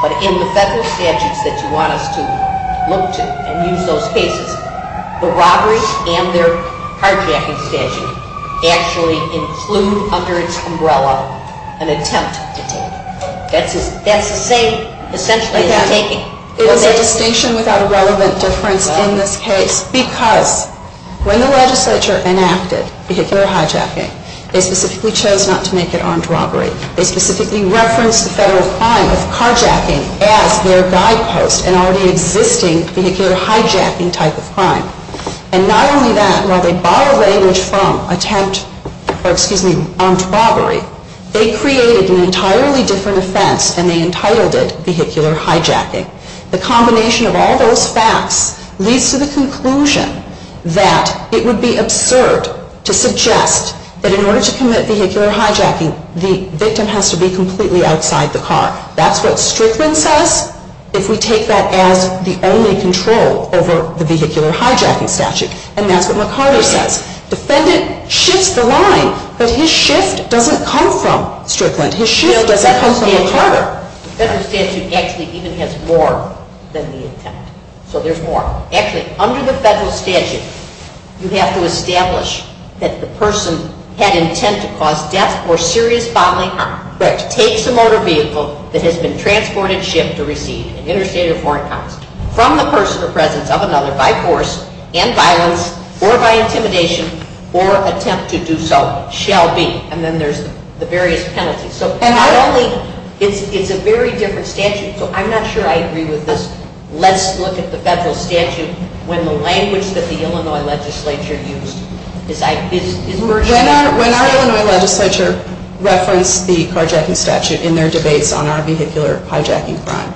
But in the federal statute that you want us to look to and use those cases, the robberies and their hijacking statutes actually include under its umbrella an attempt to take. That's the same, essentially, as taking. Is there a station without a relevant difference in this case? Because when the legislature enacted that they're hijacking, they specifically chose not to make it armed robbery. They specifically referenced the federal crimes of hijacking as their guidepost and are the existing vehicular hijacking type of crime. And not only that, while they borrowed language from attempt, or excuse me, armed robbery, they created an entirely different offense and they entitled it vehicular hijacking. The combination of all those facts leads to the conclusion that it would be absurd to suggest that in order to commit vehicular hijacking, the victim has to be completely outside the car. That's what Strickland says, if we take that as the only control over the vehicular hijacking statute. And that's what Ricardo says. The defendant shifts the line, but his shift doesn't come from Strickland. His shift doesn't come from Ricardo. The federal statute actually even has more than the intent. So there's more. Actually, under the federal statute, you have to establish that the person had an intent to cause death or serious bodily harm for a case of motor vehicle that has been transported, shipped, or received an interstate or foreign car from the person or presence of another by force and violence or by intimidation or attempt to do so shall be. And then there's the various penalties. So federally, it's a very different statute. So I'm not sure I agree with this. Let's look at the federal statute when the language that the Illinois legislature used When our Illinois legislature referenced the hijacking statute in their debates on our vehicular hijacking crime,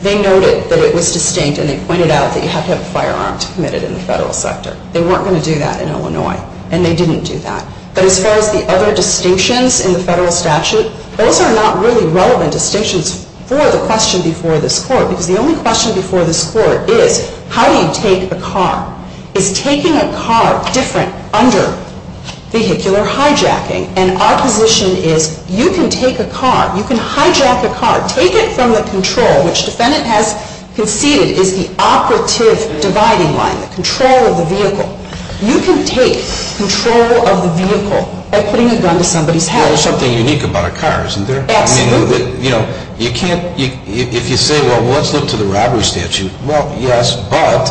they noted that it was distinct and they pointed out that you have to have firearms committed in the federal sector. They weren't going to do that in Illinois. And they didn't do that. But as far as the other distinctions in the federal statute, those are not really relevant distinctions for the question before this court because the only question before this court is how do you take a car? Is taking a car different under vehicular hijacking? And our position is you can take a car. You can hijack a car. Take it from the control, which the defendant has conceded is the operative dividing line, the control of the vehicle. You can take control of the vehicle by putting it under somebody's house. Well, there's something unique about a car, isn't there? Absolutely. You know, you can't... If you say, well, what's new to the robbery statute? Well, yes, but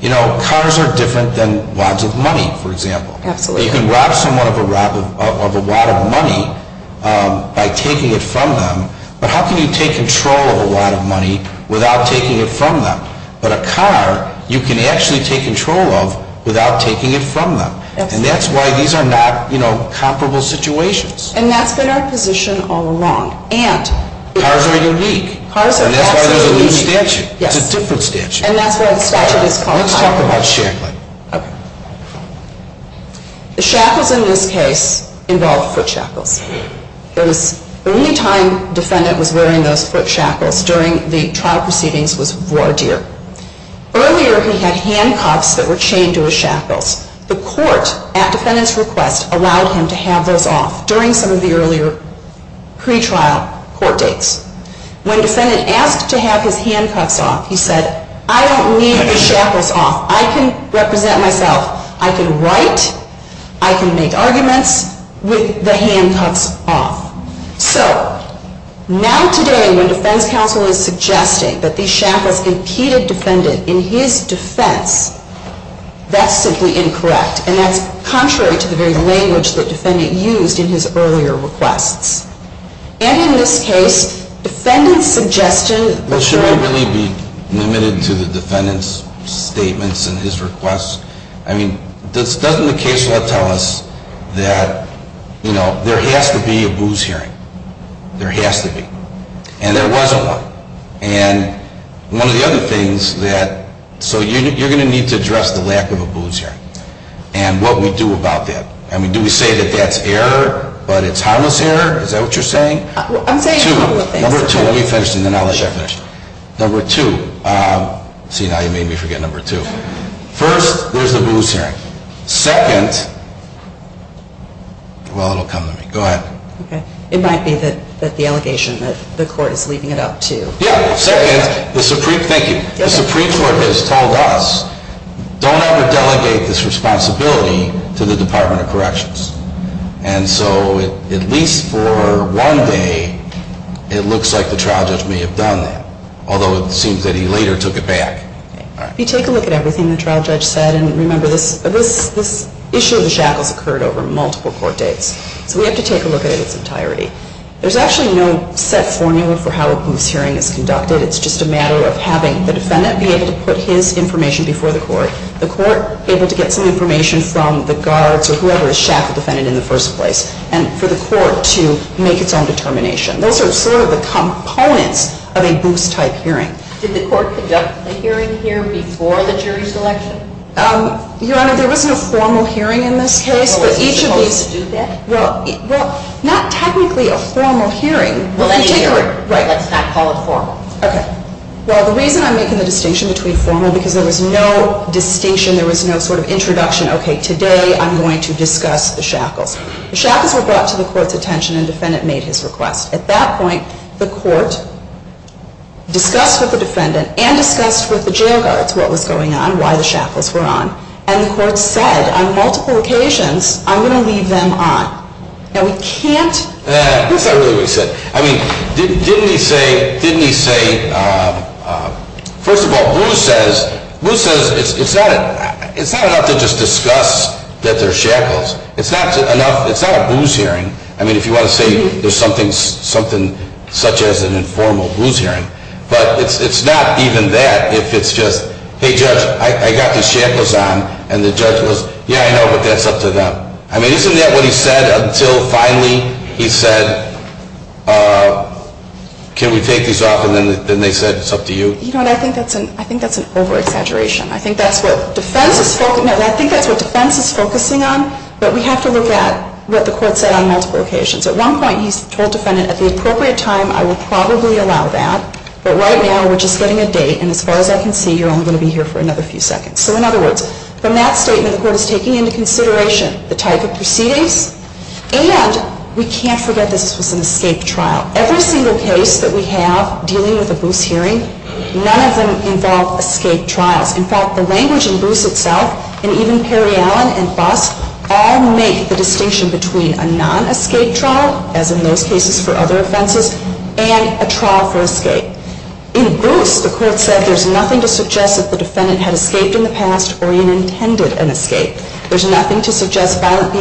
you know, cars are different than wads of money, for example. Absolutely. You can rob someone of a wad of money by taking it from them. But how can you take control of a wad of money without taking it from them? But a car, you can actually take control of without taking it from them. And that's why these are not, you know, comparable situations. And that's been our position all along. And... Cars are unique. Cars are unique. And that's why there's a new statute. Yes. It's a different statute. And that's why the statute is quite different. Let's talk about sharing. Okay. The shackles in this case involve foot shackles. And the only time the defendant was wearing those foot shackles during the trial proceedings was ward year. Earlier, he had handcuffs that were chained to his shackles. The court, at the defendant's request, allowed him to have those off during some of the earlier pretrial court dates. When the defendant asked to have his hand cuffed off, he said, I don't need the shackles off. I can represent myself. I can write. I can make arguments with the handcuffs off. So, now today when the defense counsel is suggesting that the shackles imputed defendant in his defense, that's simply incorrect. And that's contrary to the very language the defendant used in his earlier request. And in this case, defendant's suggestion... Well, should we really be limited to the defendant's statements and his requests? I mean, doesn't the case law tell us that, you know, there has to be a booze hearing? There has to be. And there was one. And one of the other things that... So, you're going to need to address the lack of a booze hearing. And what we do about that. I mean, do we say that that's error, but it's harmless error? Is that what you're saying? I'm saying... Number two. Number two. Number two. See, now you made me forget number two. First, there's the booze hearing. Second... Well, it'll come to me. Go ahead. Okay. It might be that the allegation that the court is leading it up to... Yeah. The Supreme Court has told us, don't ever delegate this responsibility to the Department of Corrections. And so, at least for one day, it looks like the trial judge may have done that. Although it seems that he later took it back. If you take a look at everything the trial judge said, and remember, this issue of the shackles occurred over multiple court dates. We have to take a look at it in its entirety. There's actually no set formula for how a booze hearing is conducted. It's just a matter of having the defendant be able to put his information before the court, the court able to get some information from the guards or whoever the shackle defendant is in the first place, and for the court to make its own determination. Those are sort of the components of a booze-type hearing. Did the court conduct a hearing here before the jury selection? Your Honor, there was no formal hearing in this case. So, was there a way to do that? Well, not technically a formal hearing. Well, that's not called formal. Okay. Well, the reason I'm making the distinction between formal is because there was no distinction, there was no sort of introduction, okay, today I'm going to discuss the shackles. The shackles were brought to the court's attention and the defendant made his request. At that point, the court discussed with the defendant and discussed with the jail guards what was going on, why the shackles were on, and the court said, on multiple occasions, I'm going to leave them on. Now, we can't... Yes, I really think so. Didn't he say, first of all, Bruce says it's not enough to just discuss that they're shackles. It's not a booze hearing. I mean, if you want to say there's something such as an informal booze hearing, but it's not even that. It's just, hey, Judge, I got these shackles on, and the judge goes, yeah, I know, but that's up to them. I mean, isn't that what he said until finally he said, can we take these off, and then they said, it's up to you? You know what, I think that's an over-exaggeration. I think that's what defense is focusing on, but we have to look at what the court said on multiple occasions. At one point, he told the defendant, at the appropriate time, I will probably allow that, but right now, we're just getting a date, and as far as I can see, you're only going to be here for another few seconds. So in other words, from that statement, the court is taking into consideration the type of proceedings, and we can't forget that this was an escape trial. Every single case that we have dealing with a booze hearing, none of them involve escape trials. In fact, the language in Booth itself, and even Perry Allen and Box, all make the distinction between a non-escape trial, as in most cases for other offenses, and a trial for escape. In Booth, the court said there's nothing to suggest that the defendant had escaped in the past or even intended an escape. There's nothing to suggest violent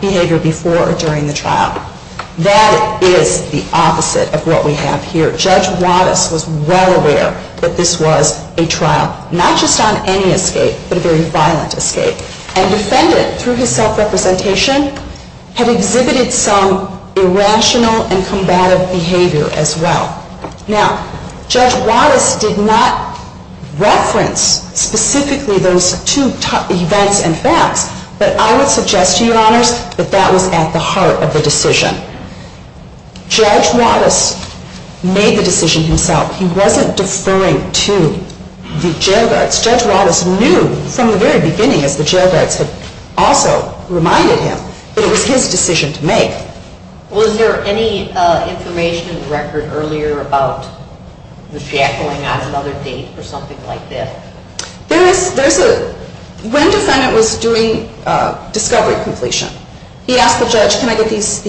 behavior before or during the trial. That is the opposite of what we have here. Judge Wattas was well aware that this was a trial not just on any escape, but a very violent escape, and defendants, through his self-representation, have exhibited some irrational and combative behavior as well. Now, Judge Wattas did not reference specifically those two events and facts, but I would suggest to you, Your Honors, that that was at the heart of the decision. Judge Wattas made the decision himself. He wasn't deferring to the jail guards. Judge Wattas knew from the very beginning that the jail guards had also reminded him that it was his decision to make. Well, is there any information in the record earlier about the shackling on another date or something like this? One defendant was doing discovery completion. He asked the judge, can I get these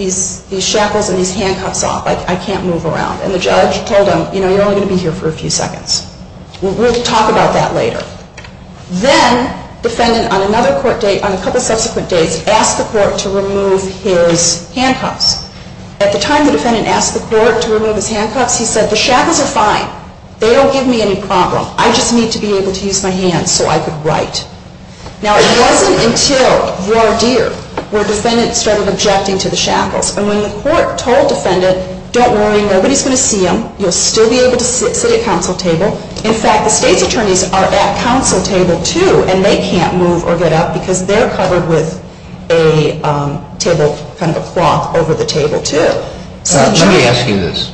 shackles and these handcuffs off? I can't move around. And the judge told him, you know, you're only going to be here for a few seconds. We'll talk about that later. Then, the defendant, on another court date, on a couple subsequent dates, asked the court to remove his handcuffs. At the time the defendant asked the court to remove his handcuffs, he said, the shackles are fine. They don't give me any problem. I just need to be able to use my hands so I can write. Now, it wasn't until your year where defendants started objecting to the shackles. And when the court told defendants, don't worry, nobody's going to see them. You'll still be able to sit at council table. In fact, the state attorneys are at that council table too, and they can't move or get up because they're covered with a table, kind of a cloth over the table too. Let me ask you this.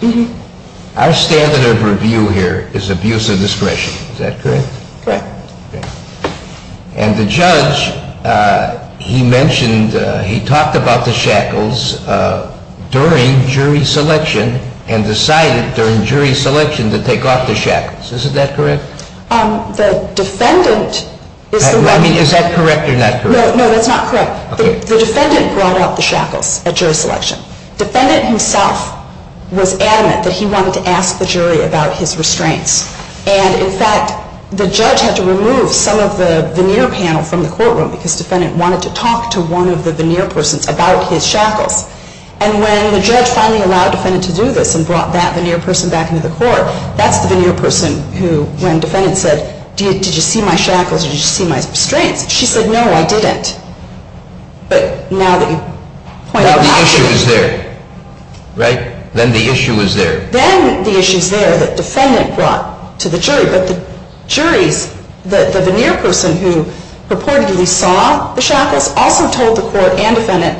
Our standard of review here is abuse of discretion. Is that correct? Correct. And the judge, he mentioned, he talked about the shackles during jury selection and decided during jury selection to take off the shackles. Is that correct? The defendant is the one who… Is that correct or not correct? No, that's not correct. The defendant brought out the shackles at jury selection. The defendant himself was adamant that he wanted to ask the jury about his restraints. And, in fact, the judge had to remove some of the veneer panel from the courtroom because the defendant wanted to talk to one of the veneer persons about his shackles. And when the judge finally allowed the defendant to do this and brought that veneer person back into the court, that's the veneer person who, when the defendant said, did you see my shackles, did you see my restraints? She said, no, I didn't. But now that you point out my issues… Then the issue is there, right? Then the issue is there. Then the issue is there that the defendant brought to the jury. But the jury, the veneer person who reportedly saw the shackles, also told the court and defendant,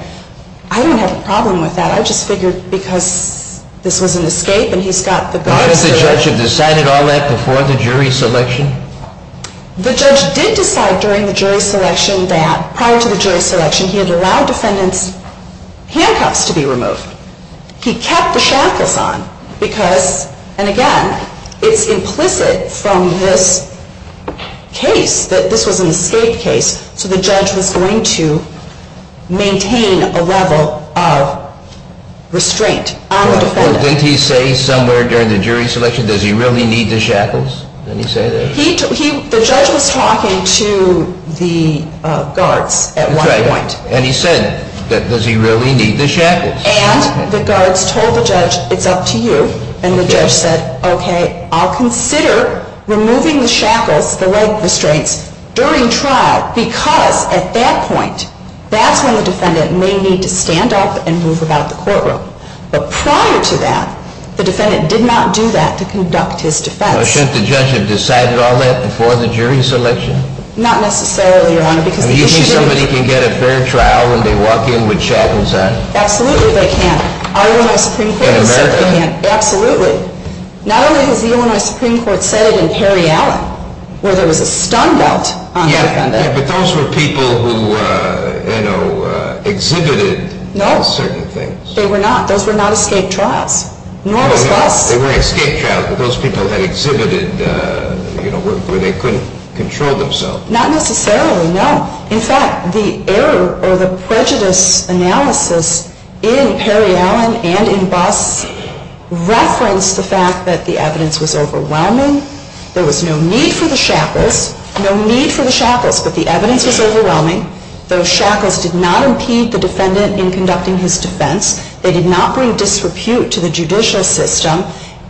I don't have a problem with that. The judge figured because this was an escape and he's got the… Why did the judge have decided all that before the jury selection? The judge did decide during the jury selection that, prior to the jury selection, he had allowed defendant's handcuffs to be removed. He kept the shackles on because, and again, it's implicit from this case that this was an escape case. So the judge was going to maintain a level of restraint on the defendant. Didn't he say somewhere during the jury selection, does he really need the shackles? Didn't he say that? The judge was talking to the guards at one point. And he said, does he really need the shackles? And the guards told the judge, it's up to you. And the judge said, okay, I'll consider removing the shackles, the leg restraints, during trial because at that point, that's when the defendant may need to stand up and move about the courtroom. But prior to that, the defendant did not do that to conduct his defense. Shouldn't the judge have decided all that before the jury selection? Not necessarily, Your Honor. Do you think somebody can get a fair trial when they walk in with shackles on? Absolutely they can. In America? Absolutely. Absolutely. Not only did the U.S. Supreme Court say that Terry Allen was a stun belt on the defendant. Yeah, but those were people who exhibited certain things. No, they were not. Those were not escape trials. No, they weren't escape trials, but those people had exhibited where they couldn't control themselves. Not necessarily, no. In fact, the error or the prejudice analysis in Terry Allen and in Boss referenced the fact that the evidence was overwhelming, there was no need for the shackles, no need for the shackles, but the evidence was overwhelming, those shackles did not impede the defendant in conducting his defense, they did not bring disrepute to the judicial system,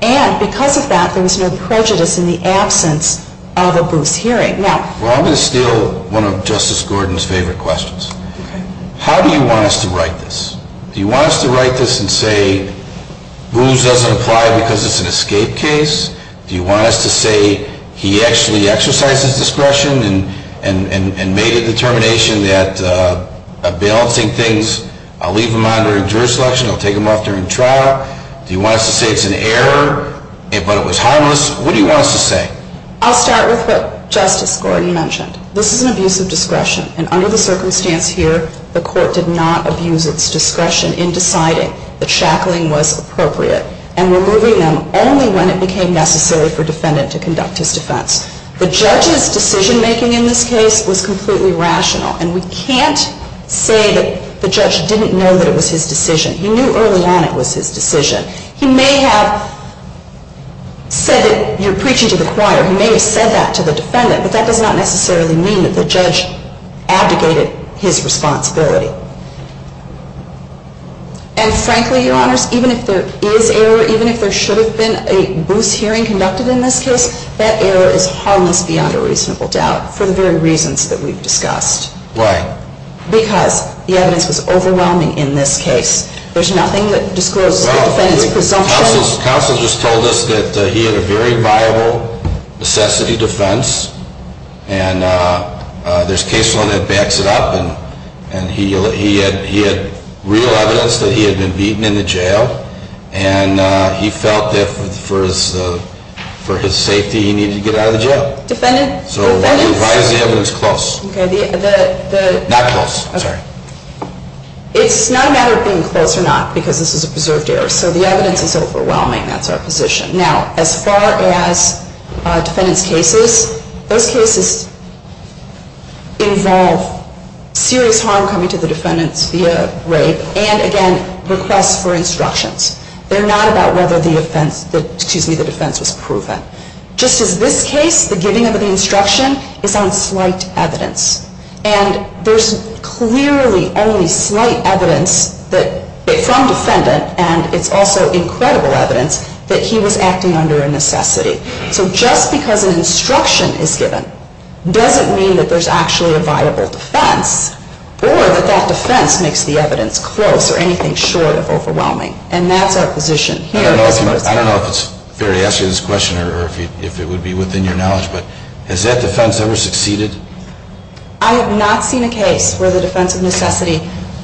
and because of that, there was no prejudice in the absence of a bruce hearing. Well, I'm going to steal one of Justice Gordon's favorite questions. How do you want us to write this? Do you want us to write this and say, Bruce doesn't apply because it's an escape case? Do you want us to say he actually exercised his discretion and made a determination that by balancing things, I'll leave him on during jury selection, I'll take him off during trial? Do you want us to say it's an error? If it was harmless, what do you want us to say? I'll start with what Justice Gordon mentioned. This is an abuse of discretion, and under the circumstance here, the court did not abuse its discretion in deciding the shackling was appropriate and removing them only when it became necessary for the defendant to conduct his defense. The judge's decision-making in this case was completely rational, and we can't say that the judge didn't know that it was his decision. He knew early on it was his decision. He may have said that you're preaching to the choir. He may have said that to the defendant, but that does not necessarily mean that the judge abdicated his responsibility. And frankly, Your Honors, even if there is error, even if there should have been a Bruce hearing conducted in this case, that error is harmless beyond a reasonable doubt for the very reasons that we've discussed. Why? Because the evidence is overwhelming in this case. There's nothing that discloses the defendant's presumption. Counsel just told us that he had a very viable necessity defense, and there's case law that backs it up, and he had real evidence that he had been beaten in the jail, and he felt that for his safety he needed to get out of jail. Defendant? So why is the evidence close? Not close. Okay. It's not a matter of being close or not because this is a preserved error. So the evidence is overwhelming. That's our position. Now, as far as defendant's cases, those cases involve serious harm coming to the defendant via rape and, again, requests for instructions. They're not about whether the offense was proven. Just as this case, the giving of the instruction is on slight evidence, and there's clearly only slight evidence from defendant, and it's also incredible evidence, that he was acting under a necessity. So just because an instruction is given doesn't mean that there's actually a viable defense or that that defense makes the evidence close or anything short of overwhelming, and that's our position here. I don't know if it's fair to ask you this question or if it would be within your knowledge, but has that defense ever succeeded? I have not seen a case where the defense of necessity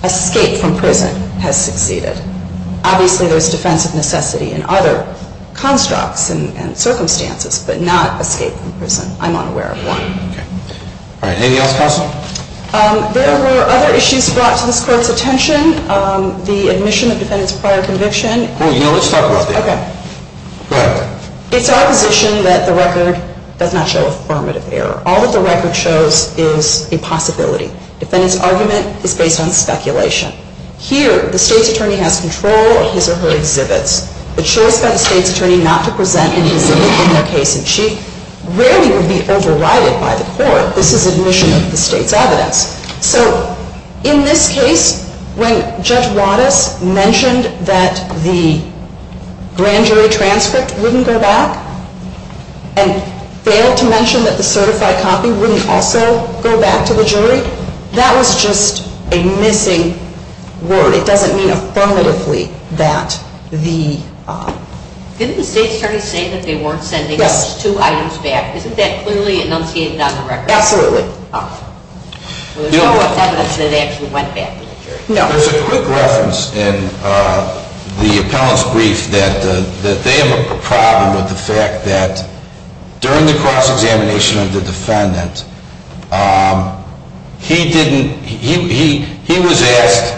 escaped from prison has succeeded. Obviously, there's defense of necessity in other constructs and circumstances, but not escape from prison. I'm unaware of one. All right. Anything else possible? There were other issues brought to this court's attention, the admission of defendant to prior conviction. Let's talk about that. Okay. Go ahead. It's our position that the record does not show affirmative error. All that the record shows is a possibility. Defendant's argument is based on speculation. Here, the state attorney has control of his or her exhibits. The choice of the state attorney not to present any evidence in their case in chief rarely would be overrided by the court. This is his mission as the state's evidence. So in this case, when Judge Wattis mentioned that the grand jury transcript wouldn't go back and failed to mention that the certified copy wouldn't also go back to the jury, that was just a missing word. It doesn't mean affirmatively that the – Isn't the state attorney saying that they weren't sending those two items back? Isn't that clearly enunciating that in the record? Absolutely. There's no evidence that it actually went back to the jury. No. There's a quick reference in the appellant's brief that they have a problem with the fact that during the cross-examination of the defendant, he didn't – he was asked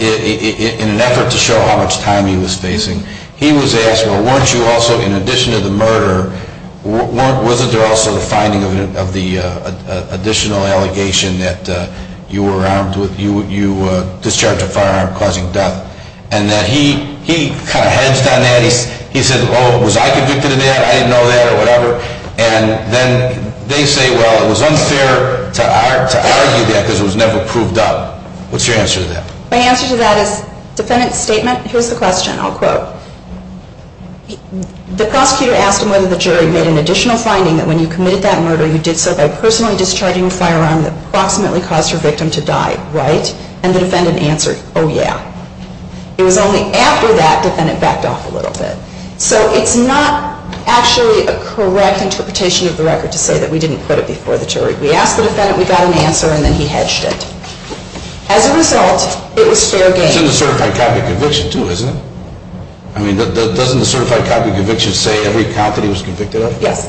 in an effort to show how much time he was facing, he was asked, well, weren't you also, in addition to the murder, wasn't there also the finding of the additional allegation that you were discharging a firearm causing death? And that he kind of heads down that, he said, oh, was I convicted of that? I didn't know that or whatever. And then they say, well, it was unfair to argue that because it was never proved up. What's your answer to that? My answer to that is, defendant's statement, here's the question, I'll quote, the prosecutor asked him whether the jury made an additional finding that when you committed that murder, you did so by personally discharging a firearm that approximately caused your victim to die, right? And the defendant answered, oh, yeah. It was only after that the defendant backed off a little bit. So it's not actually a correct interpretation of the record to say that we didn't put it before the jury. We asked the defendant, we got an answer, and then he hedged it. As a result, it was fair game. It's in the certified copy conviction too, isn't it? I mean, doesn't the certified copy conviction say every company was convicted of it? Yes,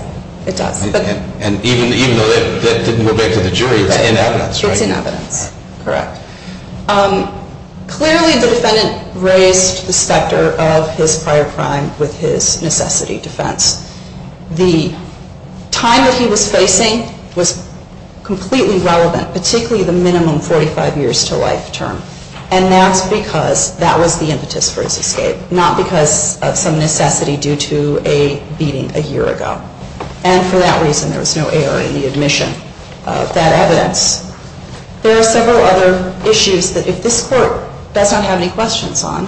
it does. And even if it didn't go back to the jury, it's in evidence, right? It's in evidence. Correct. Clearly, the defendant raised the specter of his prior crime with his necessity defense. The time that he was facing was completely relevant, particularly the minimum 45 years to life term. And that's because that was the impetus for his escape, not because of some necessity due to a beating a year ago. And for that reason, there was no ARAD admission of that evidence. There are several other issues that if this court does not have any questions on,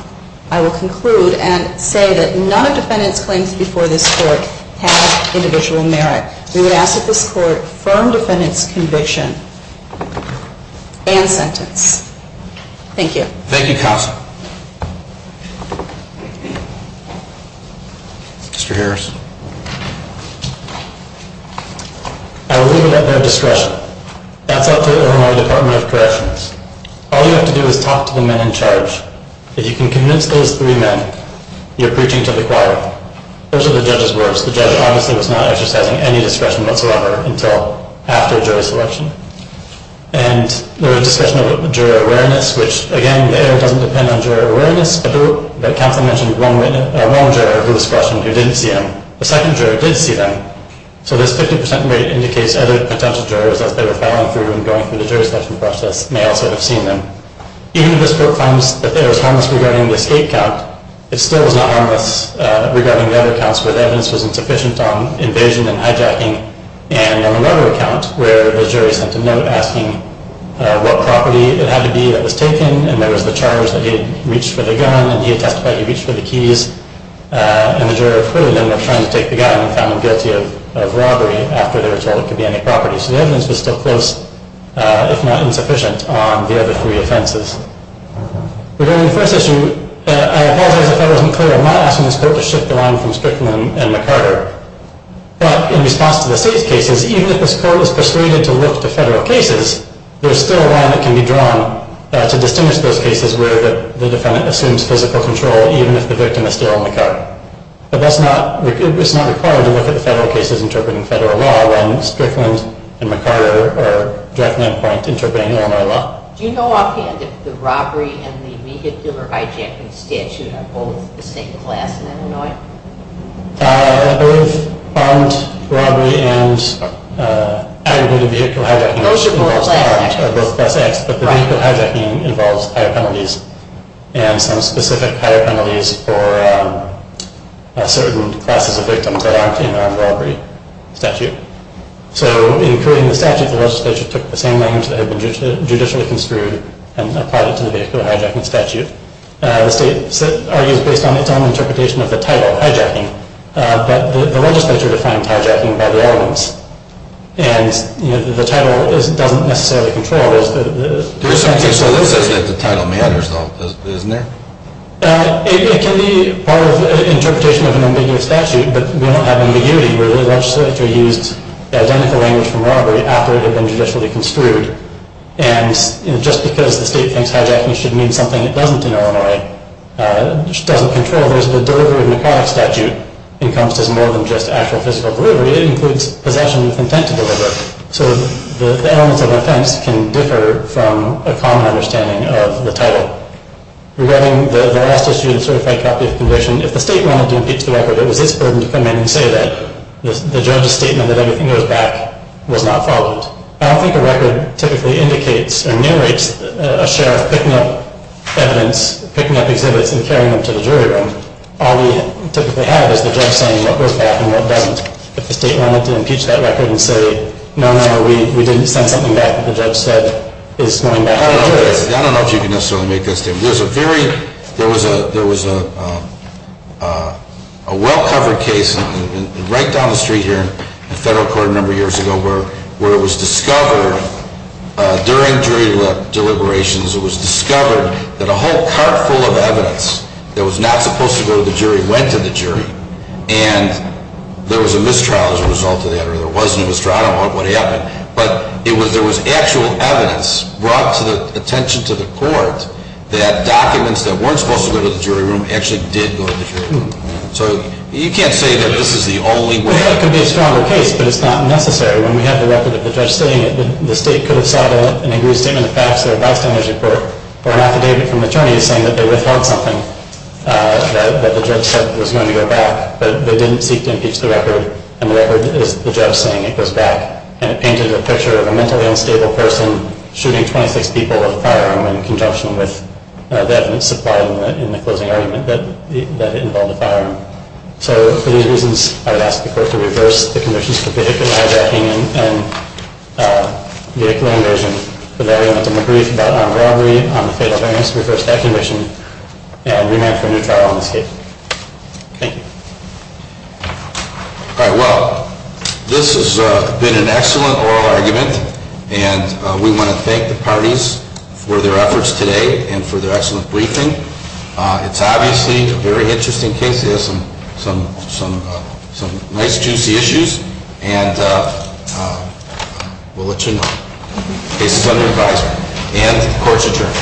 I will conclude and say that none of the defendants' claims before this court have individual merit. We ask that this court firm defendant's conviction and sentence. Thank you. Thank you, counsel. Mr. Harris. I will leave it at that discussion. As I put it in my Department of Corrections, all you have to do is talk to the men in charge. If you can convince those three men you're preaching to the choir, those are the judge's words. The judge, honestly, was not exercising any discretion whatsoever until after jury selection. And there was discussion of jury awareness, which, again, the ARA doesn't depend on jury awareness. The count that mentioned one juror who was questioned who didn't see him, the second juror did see him. So this 50 percent rate indicates other potential jurors that they were following through and going through the jury selection process may also have seen him. Even if this court finds that the ARA is harmless regarding the escape count, it still is not harmless regarding the other counts where the evidence is insufficient on invasion and hijacking. And on the murder count where the jury sent a note asking what property it had to be that was taken, and there was the charge that he reached for the gun and he testified he reached for the keys, and the juror clearly then was trying to take the guy and found him guilty of robbery after they were told it could be any property. So the evidence is still close, if not insufficient, on the other three offenses. Regarding the first issue, I apologize if I wasn't clear on my options, but to shift the line from Strickland and McCarter. But in response to the safe cases, even if this court is persuaded to look at the federal cases, there's still a line that can be drawn to distinguish those cases where the defendant assumes physical control, even if the victim is still McCarter. So that's not required to look at the federal cases interpreting federal law, other than Strickland and McCarter or direct men points interpreting Illinois law. Do you know offhand if the robbery and the vehicular hijacking statute are both the same class in Illinois? I don't believe armed robbery and illegal vehicle hijacking are both the same class. I believe that hijacking involves higher penalties, and some specific higher penalties for certain classes of victims that aren't in the armed robbery statute. So in approving the statute, the legislature took the same lines that have been judicially construed and applied it to the vehicular hijacking statute. The state argues based on its own interpretation of the title, hijacking, but the legislature defines hijacking by relevance, and the title doesn't necessarily control those. There's something to look at that the title matters, though, isn't there? It can be part of an interpretation of an ambiguous statute, but we don't have any duty to it. The legislature used the identical language from robbery after it had been judicially construed, and just because the state thinks hijacking should mean something it doesn't in Illinois, it just doesn't control it. There's a derivative in the federal statute. It encompasses more than just actual physical property. It includes possession and contentment of it. So the elements of offense can differ from a common understanding of the title. Regarding the last issue, the certified copy of conviction, if the state wanted to impeach the record, it was its burden to come in and say that. The judge's statement that everything goes back was not followed. I don't think the record typically indicates or narrates a sheriff picking up evidence, picking up exhibits, and carrying them to the jury room. All we typically have is the judge saying what goes back and what doesn't. If the state wanted to impeach that record and say, no, no, we didn't send anything back, but the judge said it was going back. I don't know if you can necessarily make that statement. There was a well-covered case right down the street here in the federal court a number of years ago where it was discovered during jury deliberations, it was discovered that a whole cart full of evidence that was not supposed to go to the jury went to the jury. And there was a mistrial as a result of that, or there was no mistrial, or what have you. But there was actual evidence brought to the attentions of the court that documents that weren't supposed to go to the jury room actually did go to the jury room. So you can't say that this is the only way. It could be a stronger case, but it's not necessary. When we have the record of the judge saying that the state could have sought out an aggrieved statement and passed it without sending it to the court, or not to get it from attorneys saying that they withheld something, that the judge said it was going to go back, but they didn't seek to impeach the record, and the record is the judge saying it goes back. And it painted a picture of a mentally unstable person shooting 26 people with a firearm in conjunction with evidence supplied in the closing argument that it involved a firearm. So for these reasons, I would ask the court to reverse the conditions and get a clear version so that everyone can agree that on the ground reading, on the case of amnesty, reverse that condition, and remand the new firearm case. Thank you. All right. Well, this has been an excellent oral argument, and we want to thank the parties for their efforts today and for their excellent briefing. It's obviously a very interesting case. It has some nice, juicy issues, and we'll let you know. The case is under advisement. And the court is adjourned.